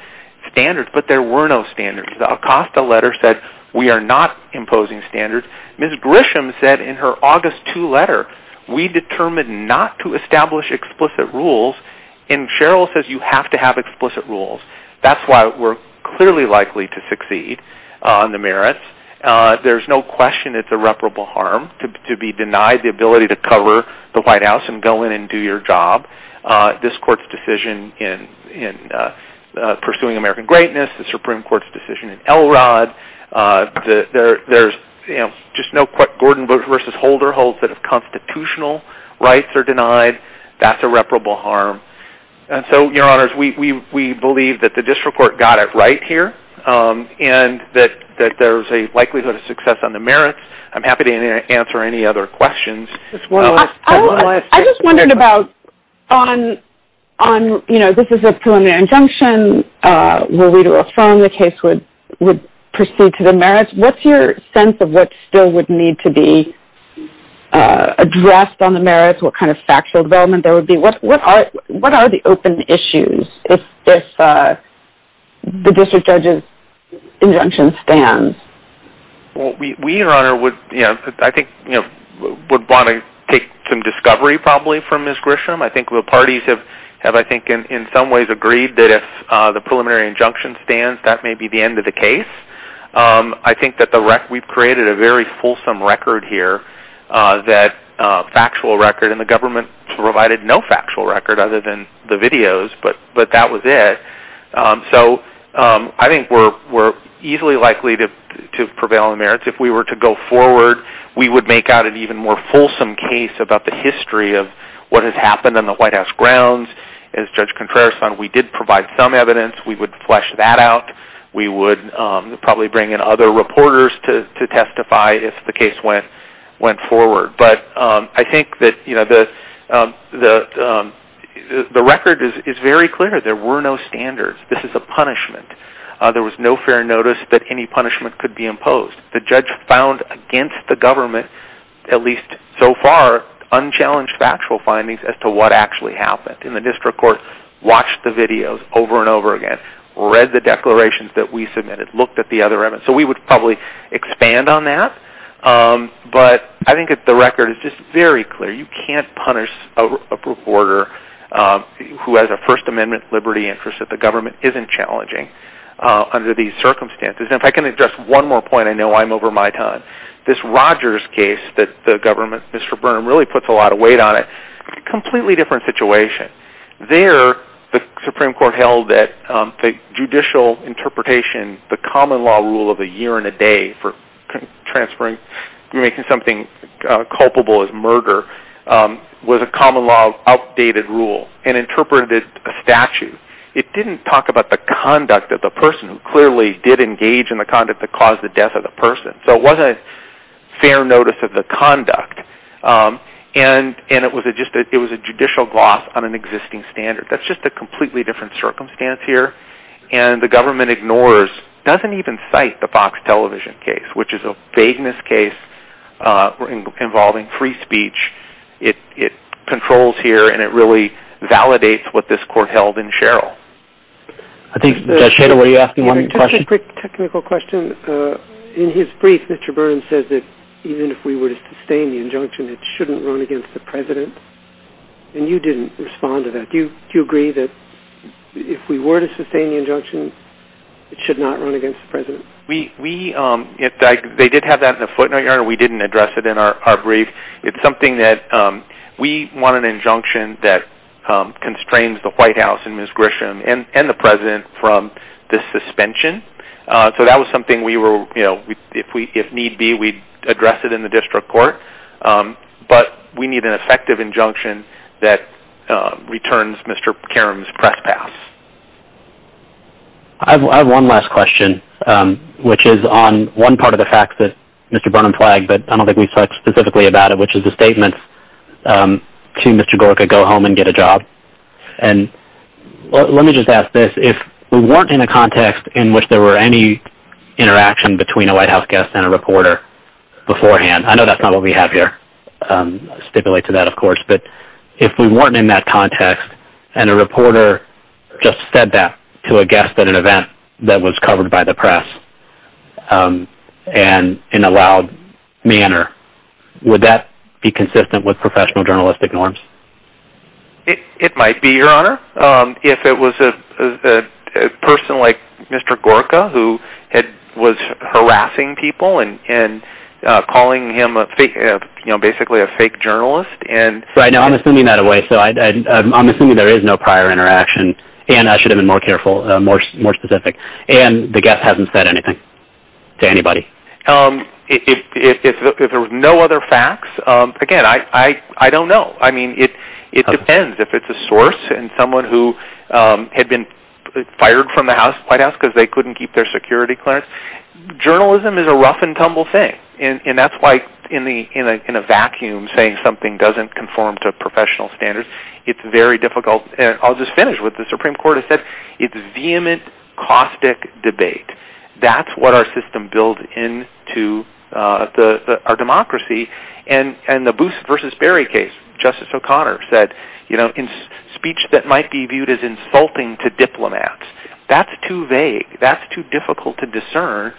standards. But there were no standards. The Acosta letter said we are not imposing standards. Ms. Grisham said in her August 2 letter, we determined not to establish explicit rules, and Sherrill says you have to have explicit rules. That's why we're clearly likely to succeed on the merits. There's no question it's irreparable harm to be denied the ability to cover the White House and go in and do your job. This court's decision in pursuing American greatness, the Supreme Court's decision in Elrod, there's just no question Gordon v. Holder holds that constitutional rights are denied. That's irreparable harm. And so, Your Honors, we believe that the district court got it right here and that there's a likelihood of success on the merits. I'm happy to answer any other questions. I just wondered about on, you know, this is a preliminary injunction. Were we to affirm the case would proceed to the merits, what's your sense of what still would need to be addressed on the merits? What kind of factual development there would be? What are the open issues if the district judge's injunction stands? Well, we, Your Honor, would, you know, I think, you know, would want to take some discovery probably from Ms. Grisham. I think the parties have, I think, in some ways agreed that if the preliminary injunction stands, that may be the end of the case. I think that we've created a very fulsome record here, that factual record, and the government provided no factual record other than the videos, but that was it. So I think we're easily likely to prevail on the merits. If we were to go forward, we would make out an even more fulsome case about the incident on the White House grounds. As Judge Contreras said, we did provide some evidence. We would flesh that out. We would probably bring in other reporters to testify if the case went forward. But I think that, you know, the record is very clear. There were no standards. This is a punishment. There was no fair notice that any punishment could be imposed. The judge found against the government, at least so far, unchallenged factual findings as to what actually happened in the district court, watched the videos over and over again, read the declarations that we submitted, looked at the other evidence. So we would probably expand on that. But I think that the record is just very clear. You can't punish a reporter who has a First Amendment liberty interest that the government isn't challenging under these circumstances. And if I can address one more point, I know I'm over my time. This Rogers case that the government, Mr. Byrne, really puts a lot of weight on it, completely different situation. There, the Supreme Court held that the judicial interpretation, the common law rule of a year and a day for transferring, making something culpable as murder, was a common law updated rule and interpreted a statute. It didn't talk about the conduct of the person who clearly did engage in the conduct that caused the death of the person. So it wasn't a fair notice of the conduct. And it was a judicial gloss on an existing standard. That's just a completely different circumstance here. And the government ignores, doesn't even cite the Fox television case, which is a vagueness case involving free speech. It controls here and it really validates what this court held in Sherrill. I think, Sherrill, were you asking one more question? Just a quick technical question. In his brief, Mr. Byrne says that even if we were to sustain the injunction, it shouldn't run against the president. And you didn't respond to that. Do you agree that if we were to sustain the injunction, it should not run against the president? We, they did have that in the footnote. We didn't address it in our brief. It's something that we want an injunction that constrains the White House and Ms. Grisham and the president from the suspension. So that was something we were, you know, if need be, we'd address it in the district court. But we need an effective injunction that returns Mr. Karam's press pass. I have one last question, which is on one part of the facts that Mr. Byrne flagged, but I don't think we've talked specifically about it, which is the statement to Mr. Gore could go home and get a job. And let me just ask this. If we weren't in a context in which there were any interaction between a White House guest and a reporter beforehand, I know that's not what we have here. I'll stipulate to that, of course. But if we weren't in that context and a reporter just said that to a guest at an event that was covered by the press and in a loud manner, would that be consistent with professional journalistic norms? It might be, Your Honor. If it was a person like Mr. Gorka who was harassing people and calling him, you know, basically a fake journalist. Right. No, I'm assuming that way. So I'm assuming there is no prior interaction. And I should have been more careful, more specific. And the guest hasn't said anything to anybody. If there were no other facts, again, I don't know. I mean, it depends if it's a source and someone who had been fired from the White House because they couldn't keep their security clearance. Journalism is a rough and tumble thing. And that's why in a vacuum saying something doesn't conform to professional standards, it's very difficult. And I'll just finish what the Supreme Court has said. It's a vehement, caustic debate. That's what our system builds into our democracy. And the Booth versus Berry case, Justice O'Connor said, you know, speech that might be viewed as insulting to diplomats, that's too vague. That's too difficult to discern.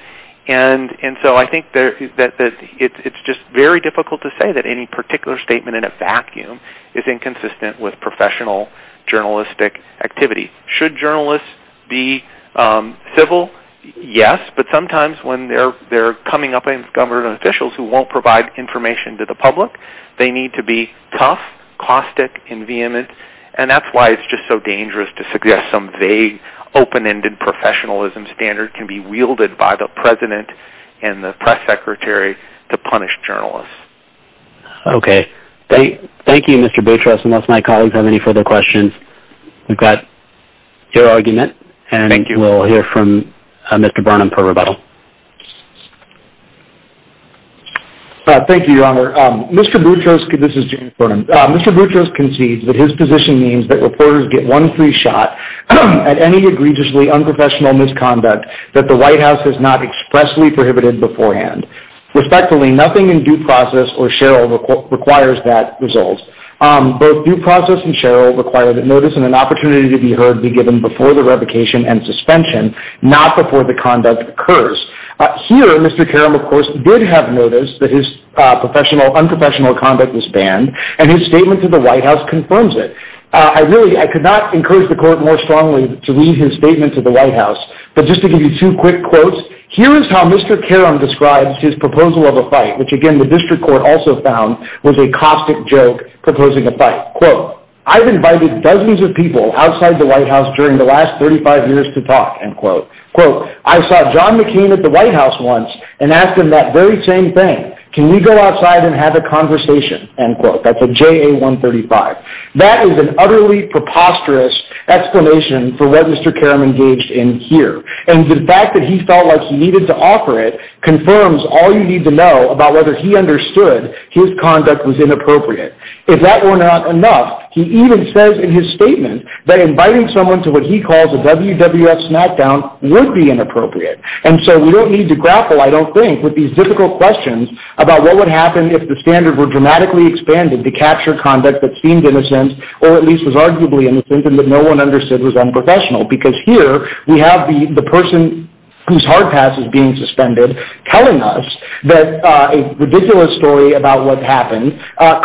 And so I think that it's just very difficult to say that any particular statement in a vacuum is inconsistent with professional journalistic activity. Should journalists be civil? Yes. But sometimes when they're coming up against government officials who won't provide information to the public, they need to be tough, caustic, and vehement. And that's why it's just so dangerous to suggest some vague, open-ended professionalism standard can be wielded by the president and the press secretary to punish journalists. Okay. Thank you, Mr. Beauchamp. Unless my colleagues have any further questions, we've got your argument, and I think you will hear from Mr. Burnham for rebuttal. Thank you, Your Honor. Mr. Beauchamp, this is Jim Burnham. Mr. Beauchamp concedes that his position means that reporters get one free shot at any egregiously unprofessional misconduct that the White House has not expressly prohibited beforehand. Respectfully, nothing in due process or Sheryl requires that result. Both due process and Sheryl require that notice and an opportunity to be heard be given before the revocation and suspension, not before the conduct occurs. Here, Mr. Caron, of course, did have notice that his unprofessional conduct was banned, and his statement to the White House confirms it. Really, I could not encourage the court more strongly to read his statement to the White House, but just to give you two quick quotes, here is how Mr. Caron describes his proposal of a fight, which, again, the district court also found was a caustic joke proposing a fight. Quote, I've invited dozens of people outside the White House during the last 35 years to talk, end quote. Quote, I saw John McCain at the White House once and asked him that very same thing. Can we go outside and have a conversation, end quote. That's a JA-135. That is an utterly preposterous explanation for what Mr. Caron engaged in here, and the fact that he felt like he needed to offer it confirms all you need to know about whether he understood his conduct was inappropriate. If that were not enough, he even says in his statement that inviting someone to what he calls a WWF smackdown would be inappropriate, and so we don't need to grapple, I don't think, with these difficult questions about what would happen if the standards were dramatically expanded to capture conduct that seemed innocent or at least was arguably innocent and that no one understood was unprofessional, because here we have the person whose hard pass is being suspended telling us that a ridiculous story about what happened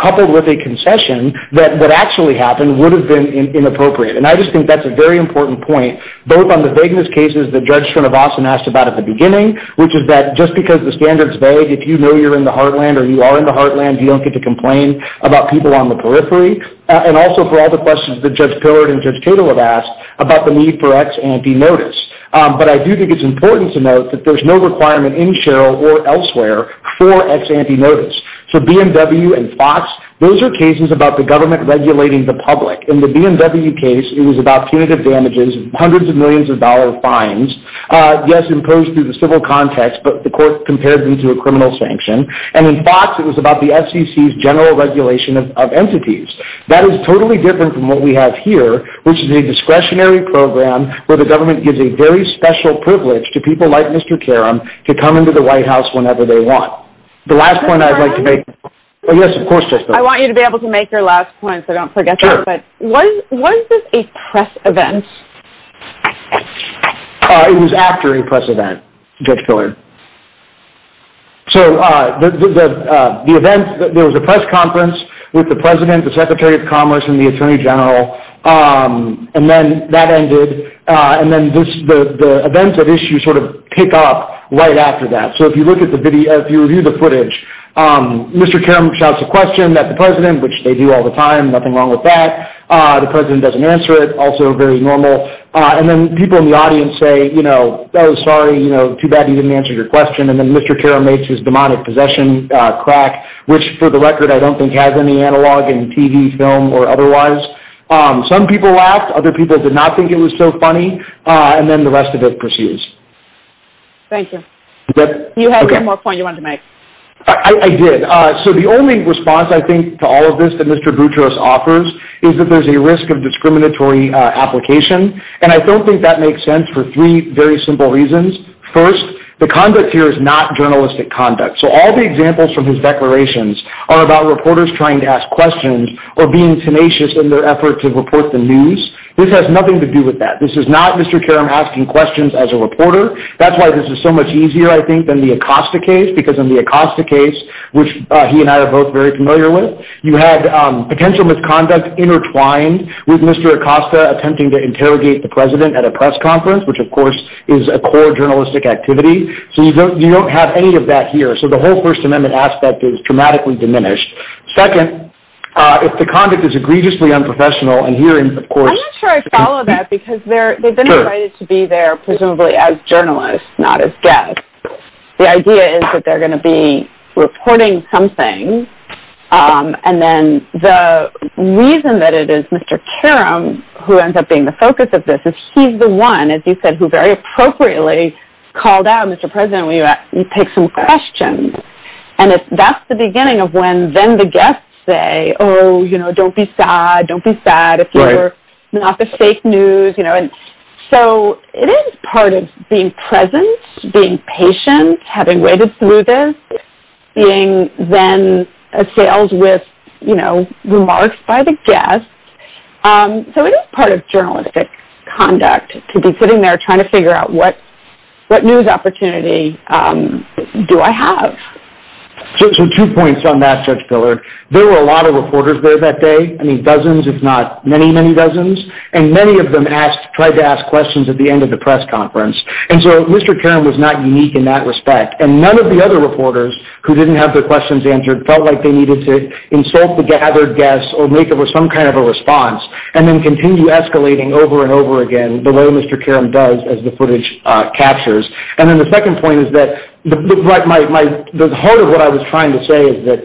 coupled with a concession that actually happened would have been inappropriate, and I just think that's a very important point both on the vagueness cases that Judge Srinivasan asked about at the beginning, which is that just because the standards vary, if you know you're in the heartland or you are in the heartland, you don't get to complain about people on the periphery, and also for all the questions that Judge Pillard and Judge Cato have asked about the need for ex-ante notice. But I do think it's important to note that there's no requirement in Sherrill or elsewhere for ex-ante notice. So BMW and Fox, those are cases about the government regulating the public. In the BMW case, it was about punitive damages, hundreds of millions of dollars of fines, yes, imposed through the civil context, but the court compared them to a criminal sanction. And in Fox, it was about the SEC's general regulation of entities. That is totally different from what we have here, which is a discretionary program where the government gives a very special privilege to people like Mr. Caron to come into the White House whenever they want. The last point I'd like to make... I want you to be able to make your last point so I don't forget it. Was this a press event? It was after a press event, Judge Pillard. So there was a press conference with the President, the Secretary of Commerce, the Attorney General, and then that ended. And then the events of issue sort of pick up right after that. So if you look at the video, if you review the footage, Mr. Caron shouts a question at the President, which they do all the time, nothing wrong with that. The President doesn't answer it, also very normal. And then people in the audience say, you know, I'm sorry, you know, too bad you didn't answer your question. And then Mr. Caron makes his demonic possession crack, which for the record I don't think has any analog in TV, film, or otherwise. Some people laughed, other people did not think it was so funny, and then the rest of it persists. Thank you. You had one more point you wanted to make. I did. So the only response I think to all of this that Mr. Gutierrez offers is that there's a risk of discriminatory application. And I don't think that makes sense for three very simple reasons. First, the conduct here is not journalistic conduct. So all the examples from his declarations are about reporters trying to ask questions or being tenacious in their efforts to report the news. This has nothing to do with that. This is not Mr. Caron asking questions as a reporter. That's why this is so much easier, I think, than the Acosta case, because in the Acosta case, which he and I are both very familiar with, you had potential misconduct intertwined with Mr. Acosta attempting to interrogate the President at a press conference, which, of course, is a core journalistic activity. So you don't have any of that here. So the whole First Amendment aspect is dramatically diminished. Second, if the conduct is egregiously unprofessional, and here, of course, I'm not sure I follow that because they've been invited to be there presumably as journalists, not as guests. The idea is that they're going to be reporting something, and then the reason that it is Mr. Caron who ends up being the focus of this is he's the one, as you said, who very appropriately called out Mr. President when he picked some questions. That's the beginning of when then the guests say, oh, don't be sad, don't be sad if you're not the fake news. So it is part of being present, being patient, having waited through this, being then assailed with remarks by the guests. So it is part of journalistic conduct to be sitting there trying to figure out what news opportunity do I have. So two points on that, Judge Billard. There were a lot of reporters there that day. I mean, dozens if not many, many dozens, and many of them tried to ask questions at the end of the press conference, and so Mr. Caron was not unique in that respect, and none of the other reporters who didn't have their questions answered felt like they needed to insult the gathered guests or make some kind of a response and then continue escalating over and over again the way Mr. Caron does as the footage captures. And then the second point is that the heart of what I was trying to say is that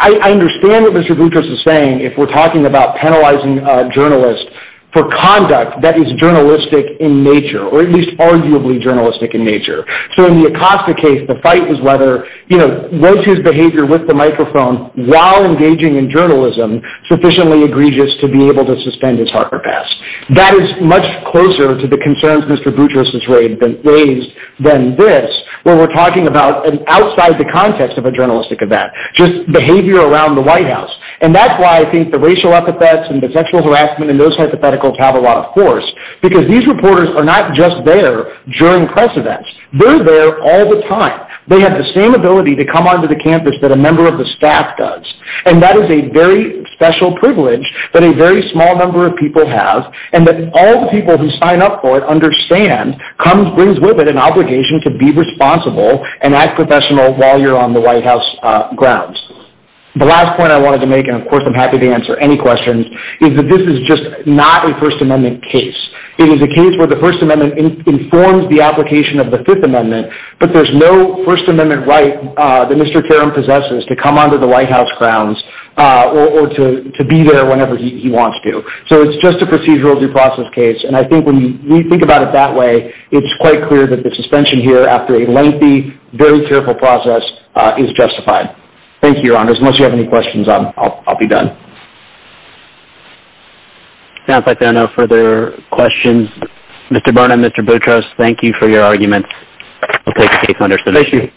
I understand what Mr. Boutros is saying if we're talking about penalizing journalists for conduct that is journalistic in nature, or at least arguably journalistic in nature. So in the Acosta case, the fight is whether, you know, what's his behavior with the microphone while engaging in journalism sufficiently egregious to be able to suspend his Harper Pass. That is much closer to the concerns Mr. Boutros has raised than this when we're talking about outside the context of a journalistic event, just behavior around the White House. And that's why I think the racial epithets and the sexual harassment and those hypotheticals have a lot of force, because these reporters are not just there during press events. They're there all the time. They have the same ability to come onto the campus that a member of the staff does, and that is a very special privilege that a very small number of people have, and that all the people who sign up for it understand comes with an obligation to be responsible and act professional while you're on the White House grounds. The last point I wanted to make, and of course I'm happy to answer any questions, is that this is just not a First Amendment case. It is a case where the First Amendment informs the application of the Fifth Amendment, but there's no First Amendment right that Mr. Karam possesses to come onto the White House grounds or to be there whenever he wants to. So it's just a procedural due process case, and I think when you think about it that way, it's quite clear that the suspension here after a lengthy, very careful process is justified. Thank you, Your Honors. Unless you have any questions, I'll be done. It sounds like there are no further questions. Mr. Burnham, Mr. Burtrous, thank you for your argument. We'll take the case under submission. Thank you.